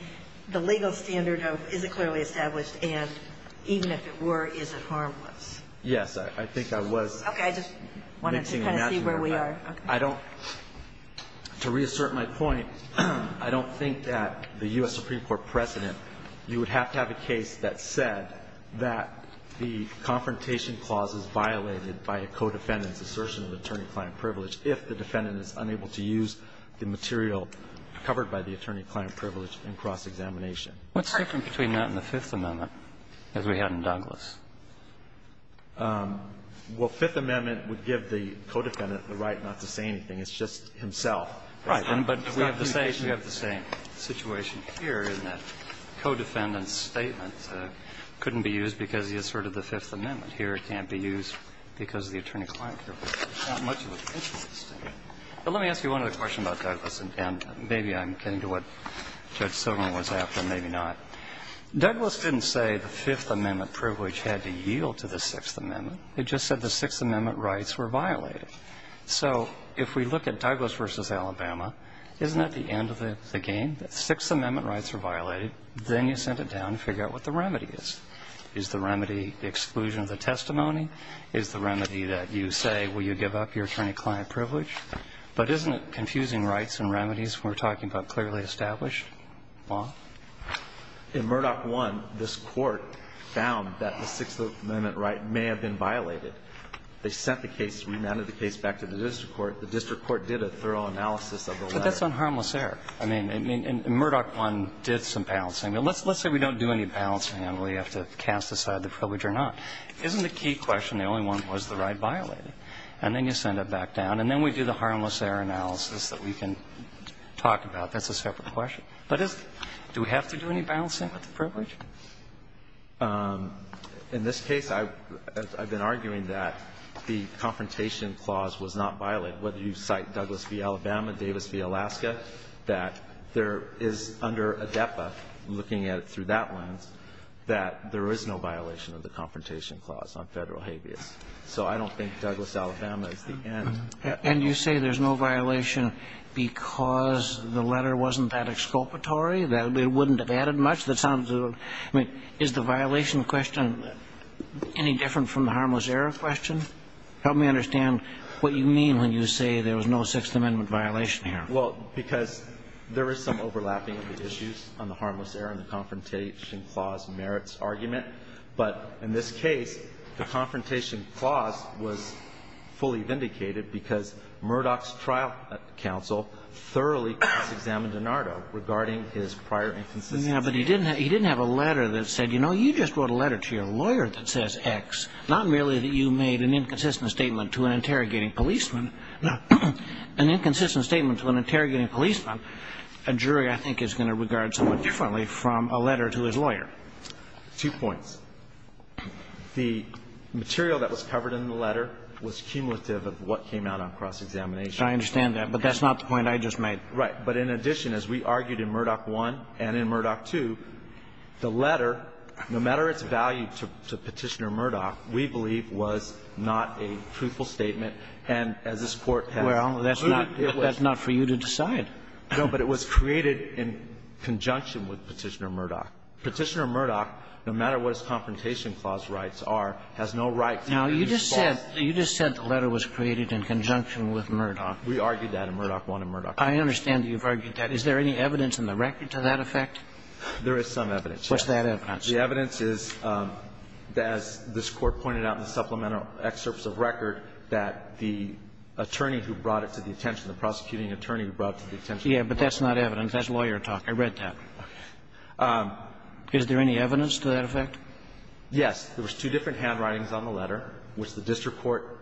the legal standard of is it clearly established, and even if it were, is it harmless? Yes. I think I was mixing and matching. Okay. I just wanted to kind of see where we are. I don't – to reassert my point, I don't think that the U.S. Supreme Court precedent – you would have to have a case that said that the confrontation clause is violated by a co-defendant's assertion of attorney-client privilege if the defendant is unable to use the material covered by the attorney-client privilege in cross-examination. What's the difference between that and the Fifth Amendment, as we had in Douglas? Well, Fifth Amendment would give the co-defendant the right not to say anything. It's just himself. Right. But we have the same – we have the same situation here, isn't it? A co-defendant's statement couldn't be used because he asserted the Fifth Amendment. Here it can't be used because of the attorney-client privilege. It's not much of a difference. But let me ask you one other question about Douglas, and maybe I'm getting to what Douglas didn't say the Fifth Amendment privilege had to yield to the Sixth Amendment. It just said the Sixth Amendment rights were violated. So if we look at Douglas v. Alabama, isn't that the end of the game? The Sixth Amendment rights were violated. Then you sent it down to figure out what the remedy is. Is the remedy exclusion of the testimony? Is the remedy that you say, will you give up your attorney-client privilege? But isn't it confusing rights and remedies when we're talking about clearly established law? In Murdoch 1, this Court found that the Sixth Amendment right may have been violated. They sent the case, remanded the case back to the district court. The district court did a thorough analysis of the letter. But that's on harmless error. I mean, in Murdoch 1, did some balancing. Let's say we don't do any balancing and we have to cast aside the privilege or not. Isn't the key question the only one, was the right violated? And then you send it back down. And then we do the harmless error analysis that we can talk about. That's a separate question. But is do we have to do any balancing with the privilege? In this case, I've been arguing that the Confrontation Clause was not violated. Whether you cite Douglas v. Alabama, Davis v. Alaska, that there is under ADEPA, looking at it through that lens, that there is no violation of the Confrontation Clause on Federal habeas. So I don't think Douglas, Alabama is the end. And you say there's no violation because the letter wasn't that exculpatory, that it wouldn't have added much? That sounds a little. I mean, is the violation question any different from the harmless error question? Help me understand what you mean when you say there was no Sixth Amendment violation here. Well, because there is some overlapping of the issues on the harmless error and the Confrontation Clause merits argument. But in this case, the Confrontation Clause was fully vindicated because Murdoch's trial counsel thoroughly cross-examined DiNardo regarding his prior inconsistencies. Yeah, but he didn't have a letter that said, you know, you just wrote a letter to your lawyer that says X. Not merely that you made an inconsistent statement to an interrogating policeman. An inconsistent statement to an interrogating policeman, a jury, I think, is going to regard somewhat differently from a letter to his lawyer. Two points. The material that was covered in the letter was cumulative of what came out on cross-examination. I understand that. But that's not the point I just made. Right. But in addition, as we argued in Murdoch I and in Murdoch II, the letter, no matter its value to Petitioner Murdoch, we believe was not a truthful statement. And as this Court has concluded, it was. Well, that's not for you to decide. No, but it was created in conjunction with Petitioner Murdoch. Petitioner Murdoch, no matter what its confrontation clause rights are, has no right to use false evidence. Now, you just said the letter was created in conjunction with Murdoch. We argued that in Murdoch I and Murdoch II. I understand you've argued that. Is there any evidence in the record to that effect? There is some evidence, yes. What's that evidence? The evidence is, as this Court pointed out in the supplemental excerpts of record, that the attorney who brought it to the attention, the prosecuting attorney who brought it to the attention. Yeah, but that's not evidence. That's lawyer talk. I read that. Okay. Is there any evidence to that effect? Yes. There was two different handwritings on the letter, which the district court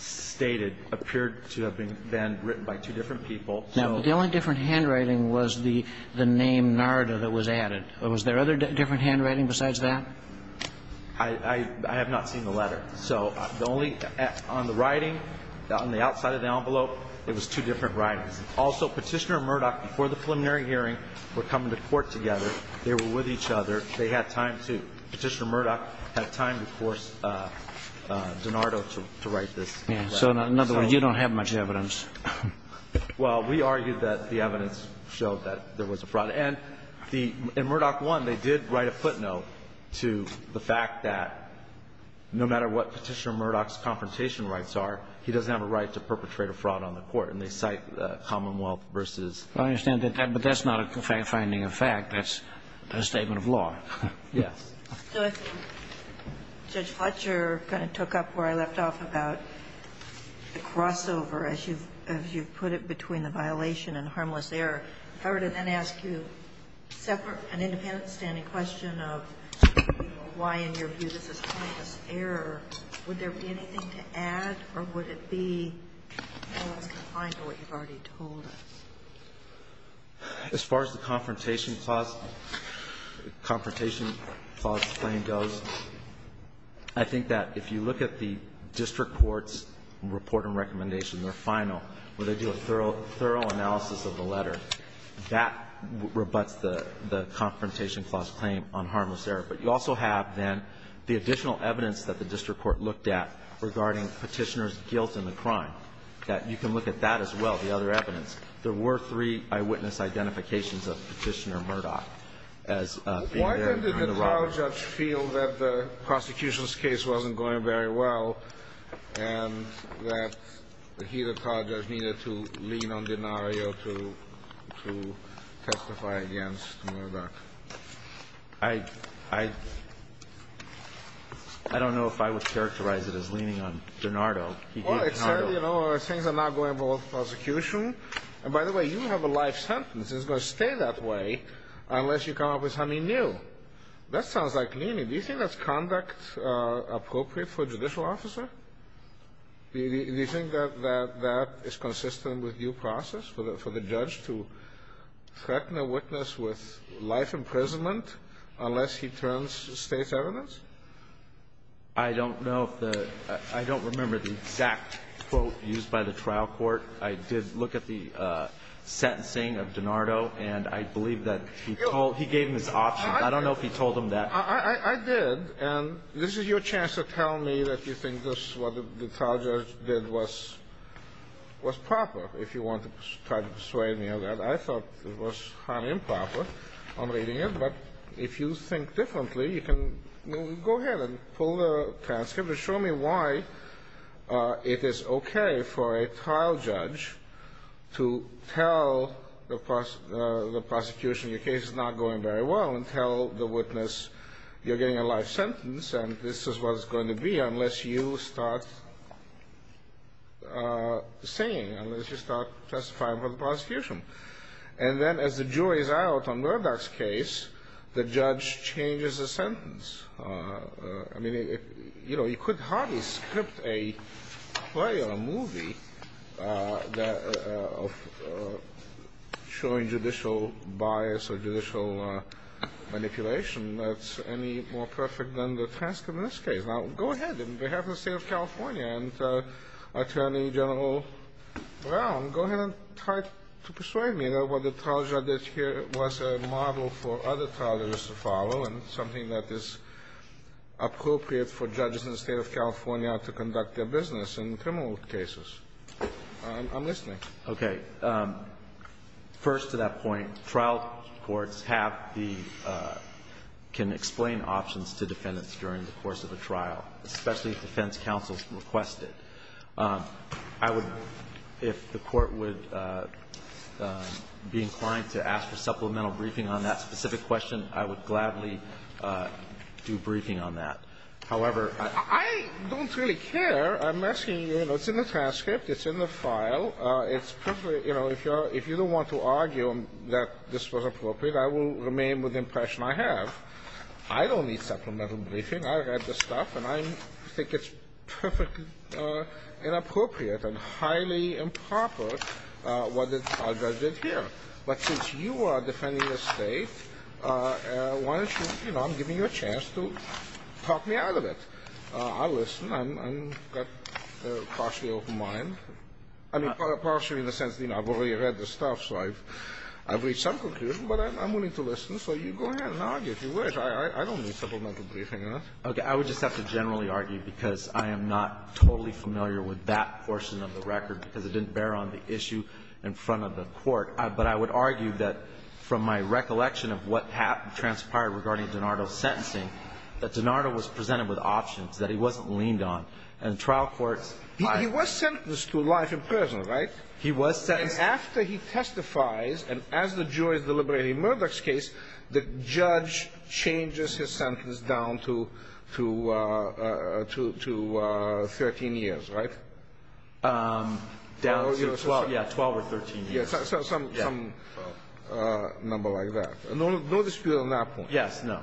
stated appeared to have been then written by two different people. Now, but the only different handwriting was the name Narda that was added. Was there other different handwriting besides that? I have not seen the letter. So the only on the writing, on the outside of the envelope, it was two different writings. Also, Petitioner and Murdoch, before the preliminary hearing, were coming to court together. They were with each other. They had time to, Petitioner and Murdoch had time to force DiNardo to write this. Yeah. So in other words, you don't have much evidence. Well, we argued that the evidence showed that there was a fraud. And the, in Murdoch I, they did write a footnote to the fact that no matter what Petitioner and Murdoch's confrontation rights are, he doesn't have a right to perpetrate a fraud on the Court. And they cite Commonwealth v. I understand that. But that's not a finding of fact. That's a statement of law. Yes. So I think Judge Fletcher kind of took up where I left off about the crossover, as you've put it, between the violation and harmless error. If I were to then ask you separate, an independent standing question of why in your view this is harmless error, would there be anything to add, or would it be more confined to what you've already told us? As far as the confrontation clause, confrontation clause claim goes, I think that if you look at the district court's report and recommendation, their final, where they do a thorough analysis of the letter, that rebuts the confrontation clause claim on harmless error. But you also have, then, the additional evidence that the district court looked at regarding Petitioner's guilt in the crime, that you can look at that as well, the other evidence. There were three eyewitness identifications of Petitioner and Murdoch as being there in the robbery. Why did the trial judge feel that the prosecution's case wasn't going very well and that he, the trial judge, needed to lean on Denario to testify against Murdoch? I don't know if I would characterize it as leaning on Denardo. He gave Denardo. Well, it said, you know, things are not going well with the prosecution. And by the way, you have a life sentence. It's going to stay that way unless you come up with something new. That sounds like leaning. Do you think that's conduct appropriate for a judicial officer? Do you think that that is consistent with due process for the judge to threaten a witness with life imprisonment unless he turns state's evidence? I don't know if the – I don't remember the exact quote used by the trial court. I did look at the sentencing of Denardo, and I believe that he gave him his option. I don't know if he told him that. I did. And this is your chance to tell me that you think what the trial judge did was proper, if you want to try to persuade me of that. I thought it was highly improper. I'm reading it. But if you think differently, you can go ahead and pull the transcript and show me why it is okay for a trial judge to tell the prosecution, your case is not going very well, and tell the witness you're getting a life sentence and this is what it's going to be unless you start singing, unless you start testifying for the prosecution. And then as the jury is out on Murdoch's case, the judge changes the sentence. I mean, you could hardly script a play or a movie showing judicial bias or judicial manipulation that's any more perfect than the transcript in this case. Now, go ahead. On behalf of the State of California and Attorney General Brown, go ahead and try to persuade me that what the trial judge did here was a model for other trial judges to follow and something that is appropriate for judges in the State of California to conduct their business in criminal cases. I'm listening. Okay. First, to that point, trial courts have the – I would, if the Court would be inclined to ask for supplemental briefing on that specific question, I would gladly do briefing on that. However, I don't really care. I'm asking you, you know, it's in the transcript. It's in the file. It's – you know, if you don't want to argue that this was appropriate, I will remain with the impression I have. I don't need supplemental briefing. I read the stuff, and I think it's perfectly inappropriate and highly improper what the trial judge did here. But since you are defending the State, why don't you – you know, I'm giving you a chance to talk me out of it. I'll listen. I've got a partially open mind. I mean, partially in the sense, you know, I've already read the stuff, so I've reached some conclusion, but I'm willing to listen. So you go ahead and argue if you wish. I don't need supplemental briefing on that. Okay. I would just have to generally argue because I am not totally familiar with that portion of the record because it didn't bear on the issue in front of the Court. But I would argue that from my recollection of what transpired regarding DiNardo's sentencing, that DiNardo was presented with options that he wasn't leaned on. And trial courts – He was sentenced to life in prison, right? He was sentenced. And after he testifies, and as the jury is deliberating Murdoch's case, the judge changes his sentence down to 13 years, right? Down to 12. Yeah, 12 or 13 years. Some number like that. No dispute on that point. Yes, no.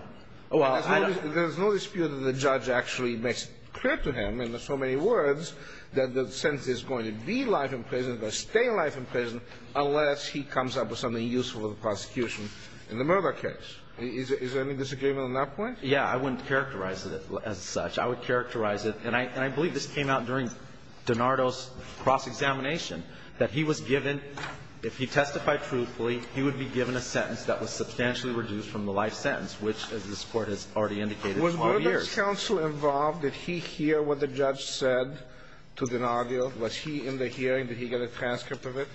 There's no dispute that the judge actually makes clear to him in so many words that the sentence is going to be life in prison or stay life in prison unless he comes up with something useful for the prosecution in the Murdoch case. Is there any disagreement on that point? Yeah. I wouldn't characterize it as such. I would characterize it – and I believe this came out during DiNardo's cross-examination – that he was given – if he testified truthfully, he would be given a sentence that was substantially reduced from the life sentence, which, as this Court has already indicated, 12 years. Was trial counsel involved? Did he hear what the judge said to DiNardo? Was he in the hearing? Did he get a transcript of it?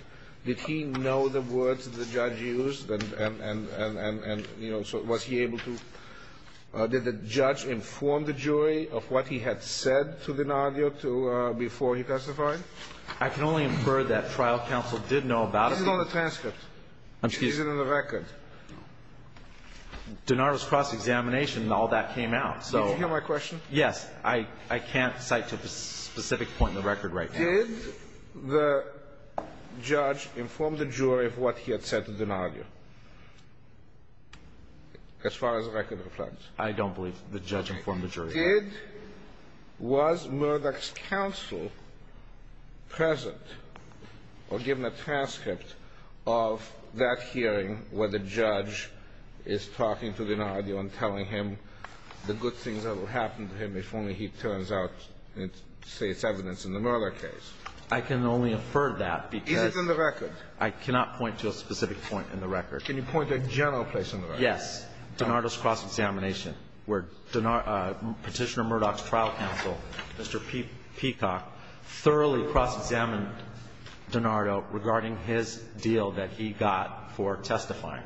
Did he know the words that the judge used? And, you know, was he able to – did the judge inform the jury of what he had said to DiNardo before he testified? I can only infer that trial counsel did know about it. Is it on the transcript? Excuse me. Is it in the record? DiNardo's cross-examination, all that came out. Did you hear my question? Yes. I can't cite to a specific point in the record right now. Did the judge inform the jury of what he had said to DiNardo, as far as the record reflects? I don't believe the judge informed the jury. Did – was Murdoch's counsel present or given a transcript of that hearing where the judge is talking to DiNardo and telling him the good things that will happen to him if only he turns out to say it's evidence in the Murdoch case? I can only infer that because – Is it in the record? I cannot point to a specific point in the record. Can you point to a general place in the record? Yes. DiNardo's cross-examination, where Petitioner Murdoch's trial counsel, Mr. Peacock, thoroughly cross-examined DiNardo regarding his deal that he got for testifying,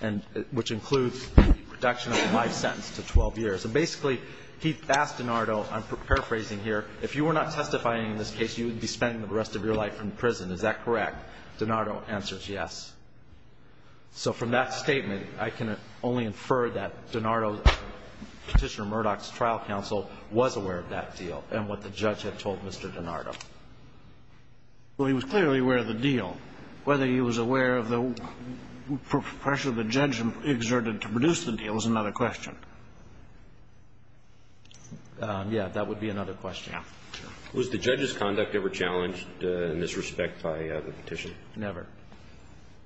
and – which includes the reduction of the life sentence to 12 years. And basically, he asked DiNardo – I'm paraphrasing here – if you were not testifying in this case, you would be spending the rest of your life in prison. Is that correct? DiNardo answers yes. So from that statement, I can only infer that DiNardo, Petitioner Murdoch's trial counsel was aware of that deal and what the judge had told Mr. DiNardo. Well, he was clearly aware of the deal. Whether he was aware of the pressure the judge exerted to produce the deal is another question. Yes, that would be another question. Was the judge's conduct ever challenged in this respect by the petition? Never.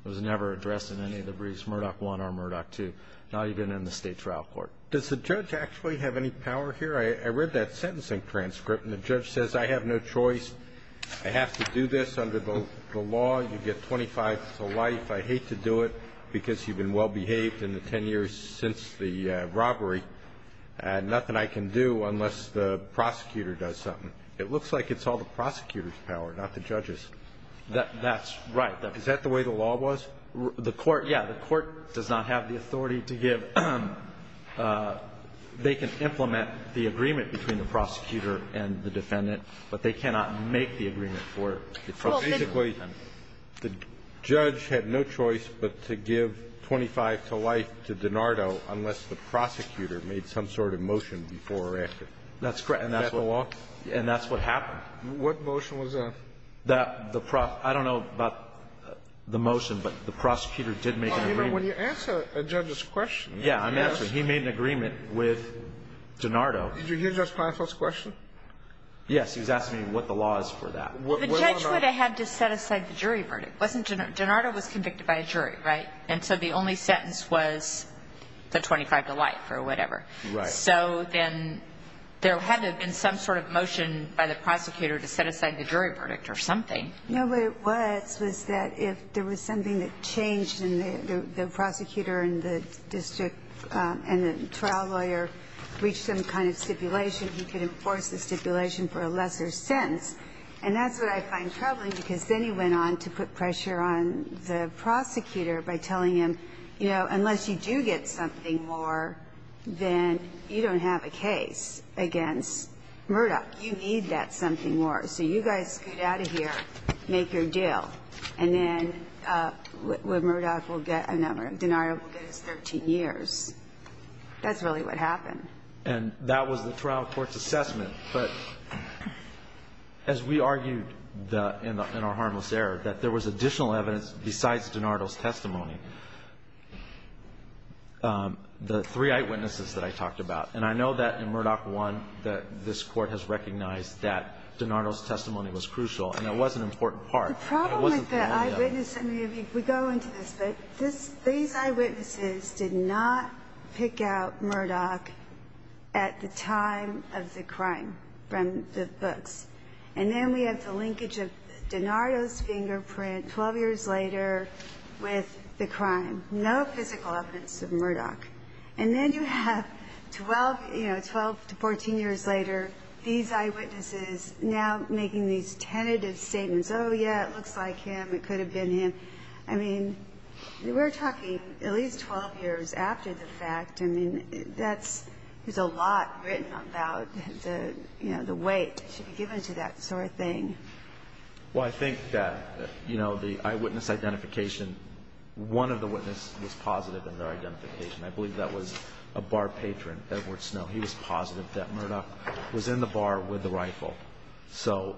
It was never addressed in any of the briefs, Murdoch I or Murdoch II, not even in the state trial court. Does the judge actually have any power here? I read that sentencing transcript, and the judge says, I have no choice. I have to do this under the law. You get 25 to life. I hate to do it because you've been well-behaved in the 10 years since the robbery. Nothing I can do unless the prosecutor does something. It looks like it's all the prosecutor's power, not the judge's. That's right. Is that the way the law was? The court, yeah, the court does not have the authority to give. They can implement the agreement between the prosecutor and the defendant, but they cannot make the agreement for the prosecutor and the defendant. Well, basically, the judge had no choice but to give 25 to life to DiNardo unless the prosecutor made some sort of motion before or after. That's correct. Is that the law? And that's what happened. What motion was that? I don't know about the motion, but the prosecutor did make an agreement. Well, remember, when you answer a judge's question. Yeah, I'm answering. He made an agreement with DiNardo. Did you hear Judge Planoff's question? Yes. He was asking me what the law is for that. The judge would have had to set aside the jury verdict. DiNardo was convicted by a jury, right? And so the only sentence was the 25 to life or whatever. Right. So then there had to have been some sort of motion by the prosecutor to set aside the jury verdict or something. No, but it was that if there was something that changed and the prosecutor and the district and the trial lawyer reached some kind of stipulation, he could enforce the stipulation for a lesser sentence. And that's what I find troubling because then he went on to put pressure on the prosecutor by telling him, you know, unless you do get something more, then you don't have a case against Murdoch. You need that something more. So you guys get out of here, make your deal, and then Murdoch will get a number. DiNardo will get his 13 years. That's really what happened. And that was the trial court's assessment. But as we argued in our harmless error that there was additional evidence besides DiNardo's testimony, the three eyewitnesses that I talked about, and I know that in Murdoch 1 that this Court has recognized that DiNardo's testimony was crucial, and it was an important part. But it wasn't the only other. The problem with the eyewitnesses, we go into this, but these eyewitnesses did not pick out Murdoch at the time of the crime from the books. And then we have the linkage of DiNardo's fingerprint 12 years later with the crime. No physical evidence of Murdoch. And then you have 12 to 14 years later these eyewitnesses now making these tentative statements, oh, yeah, it looks like him, it could have been him. I mean, we're talking at least 12 years after the fact. I mean, there's a lot written about the weight that should be given to that sort of thing. Well, I think that the eyewitness identification, one of the witnesses was positive in their identification. I believe that was a bar patron, Edward Snow. He was positive that Murdoch was in the bar with the rifle. So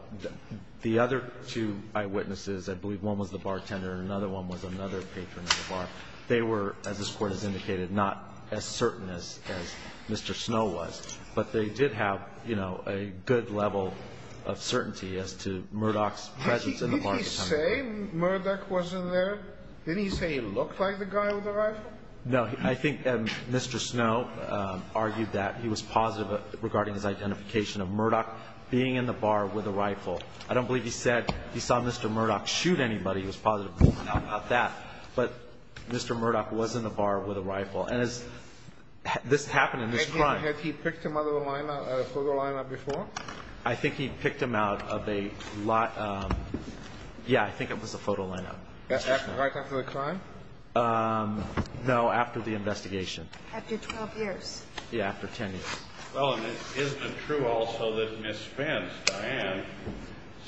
the other two eyewitnesses, I believe one was the bartender and another one was another patron of the bar, they were, as this Court has indicated, not as certain as Mr. Snow was. But they did have, you know, a good level of certainty as to Murdoch's presence in the bar. Did he say Murdoch was in there? Didn't he say he looked like the guy with the rifle? No. I think Mr. Snow argued that he was positive regarding his identification of Murdoch being in the bar with a rifle. I don't believe he said he saw Mr. Murdoch shoot anybody. He was positive about that. But Mr. Murdoch was in the bar with a rifle. And this happened in this crime. Had he picked him out of the photo lineup before? I think he picked him out of a lot of, yeah, I think it was a photo lineup. Right after the crime? No, after the investigation. After 12 years. Yeah, after 10 years. Well, and it isn't true also that Ms. Spence, Diane,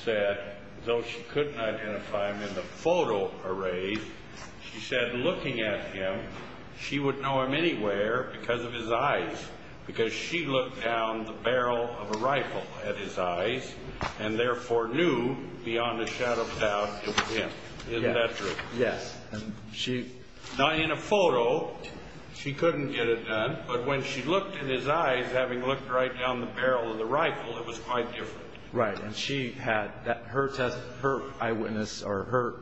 said, though she couldn't identify him in the photo array, she said looking at him, she would know him anywhere because of his eyes. Beyond a shadow of a doubt, it was him. Isn't that true? Yes. Not in a photo. She couldn't get it done. But when she looked in his eyes, having looked right down the barrel of the rifle, it was quite different. Right. And her eyewitness or her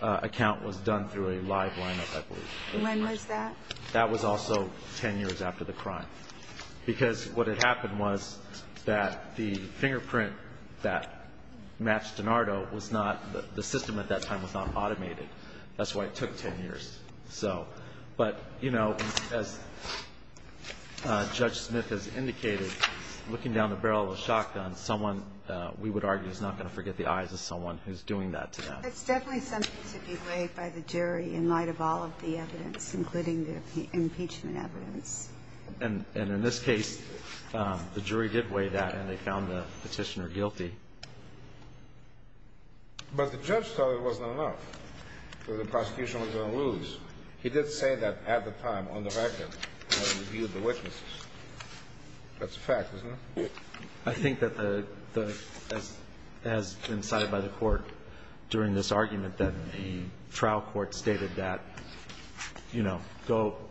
account was done through a live lineup, I believe. When was that? That was also 10 years after the crime. Because what had happened was that the fingerprint that matched DiNardo was not, the system at that time was not automated. That's why it took 10 years. But, you know, as Judge Smith has indicated, looking down the barrel of a shotgun, someone, we would argue, is not going to forget the eyes of someone who's doing that to them. It's definitely something to be weighed by the jury in light of all of the evidence, including the impeachment evidence. And in this case, the jury did weigh that, and they found the petitioner guilty. But the judge thought it wasn't enough, that the prosecution was going to lose. He did say that at the time, on the record, when he reviewed the witnesses. That's a fact, isn't it? I think that the, as incited by the court during this argument, that a trial court stated that, you know,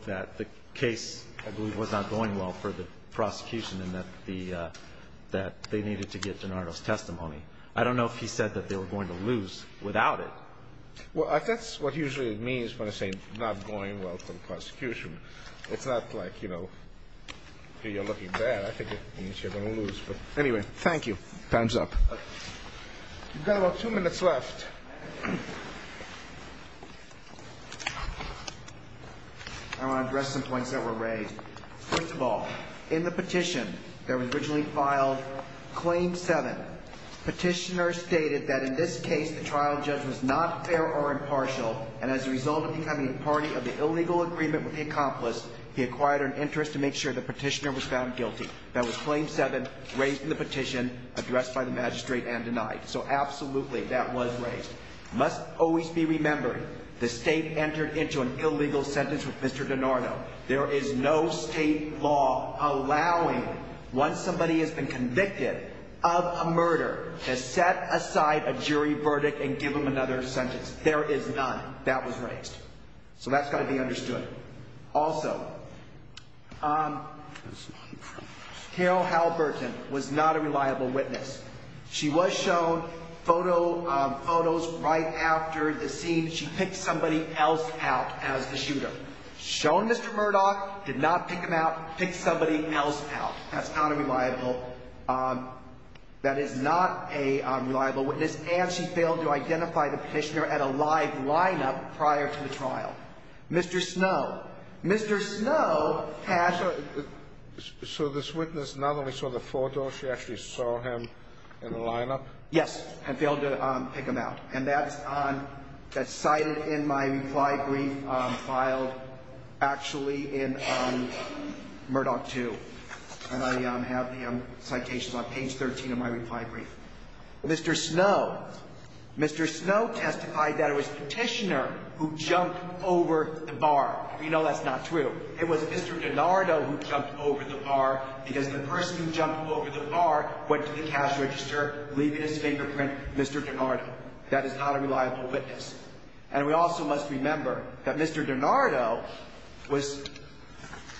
that the case, I believe, was not going well for the prosecution and that they needed to get DiNardo's testimony. I don't know if he said that they were going to lose without it. Well, that's what usually it means when I say not going well for the prosecution. It's not like, you know, you're looking bad. I think it means you're going to lose. But anyway, thank you. Time's up. You've got about two minutes left. I want to address some points that were raised. First of all, in the petition that was originally filed, Claim 7, petitioner stated that in this case, the trial judge was not fair or impartial, and as a result of becoming a party of the illegal agreement with the accomplice, he acquired an interest to make sure the petitioner was found guilty. That was Claim 7, raised in the petition, addressed by the magistrate, and denied. So absolutely, that was raised. Must always be remembered, the state entered into an illegal sentence with Mr. DiNardo. There is no state law allowing, once somebody has been convicted of a murder, to set aside a jury verdict and give them another sentence. That was raised. So that's got to be understood. Also, Carol Halburton was not a reliable witness. She was shown photos right after the scene. She picked somebody else out as the shooter. Shown Mr. Murdoch, did not pick him out, picked somebody else out. That's not a reliable witness, and she failed to identify the petitioner at a live lineup prior to the trial. Mr. Snow. Mr. Snow has a ---- So this witness not only saw the photo, she actually saw him in the lineup? Yes. And failed to pick him out. And that's on ---- that's cited in my reply brief, filed actually in Murdoch 2. And I have him, citations on page 13 of my reply brief. Mr. Snow. Mr. Snow testified that it was the petitioner who jumped over the bar. We know that's not true. It was Mr. DiNardo who jumped over the bar, because the person who jumped over the bar went to the cash register, leaving his fingerprint, Mr. DiNardo. That is not a reliable witness. And we also must remember that Mr. DiNardo was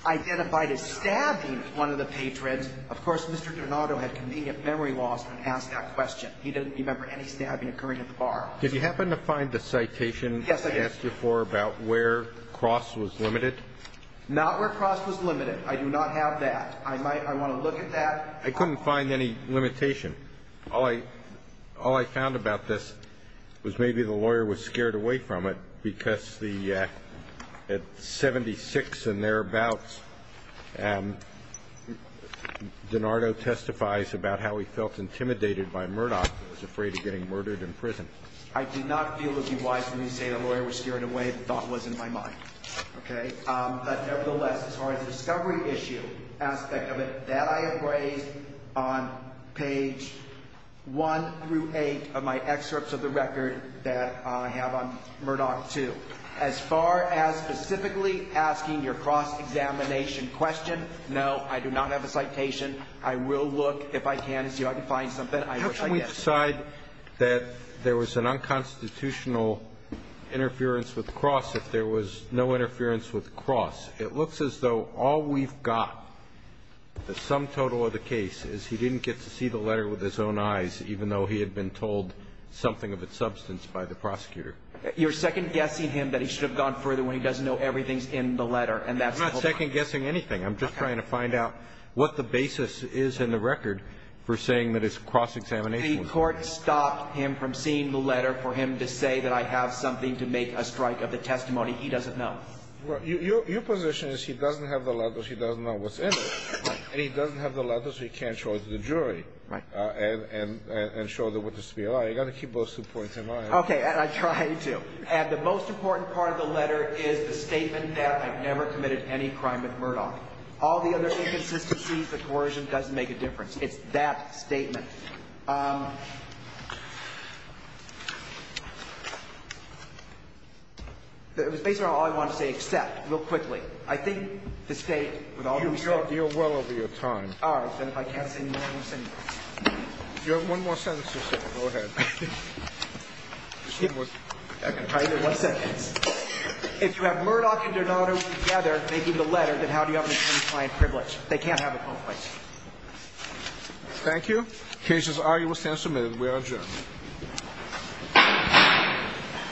identified as stabbing one of the patrons. Of course, Mr. DiNardo had convenient memory loss when asked that question. He doesn't remember any stabbing occurring at the bar. Did you happen to find the citation? Yes, I did. Asked before about where cross was limited? Not where cross was limited. I do not have that. I might ---- I want to look at that. I couldn't find any limitation. All I found about this was maybe the lawyer was scared away from it, because the at 76 and thereabouts, DiNardo testifies about how he felt intimidated by Murdoch, who was afraid of getting murdered in prison. I do not feel it would be wise for me to say the lawyer was scared away, the thought was in my mind. Okay? But nevertheless, as far as the discovery issue aspect of it, that I have raised on page 1 through 8 of my excerpts of the record that I have on Murdoch 2, as far as specifically asking your cross-examination question, no, I do not have a citation. I will look, if I can, and see if I can find something, I wish I did. How can we decide that there was an unconstitutional interference with cross if there was no interference with cross? It looks as though all we've got, the sum total of the case, is he didn't get to see the letter with his own eyes, even though he had been told something of its substance by the prosecutor. You're second-guessing him that he should have gone further when he doesn't know everything's in the letter, and that's the whole point. I'm not second-guessing anything. Okay. I'm just trying to find out what the basis is in the record for saying that it's cross-examination. The court stopped him from seeing the letter for him to say that I have something to make a strike of the testimony. He doesn't know. Well, your position is he doesn't have the letter, he doesn't know what's in it, and he doesn't have the letter, so he can't show it to the jury. Right. And show them what is to be allowed. You've got to keep those two points in mind. Okay. And I'm trying to. And the most important part of the letter is the statement that I've never committed any crime with Murdoch. All the other inconsistencies, the coercion doesn't make a difference. It's that statement. It was basically all I wanted to say, except real quickly. I think the State, with all that we've said. You're well over your time. All right. Then if I can't say more, I'm single. You have one more sentence to say. Go ahead. If you have Murdoch and Donato together making the letter, then how do you have an attorney-client privilege? They can't have it both ways. Thank you. Case is arguably submitted. We are adjourned.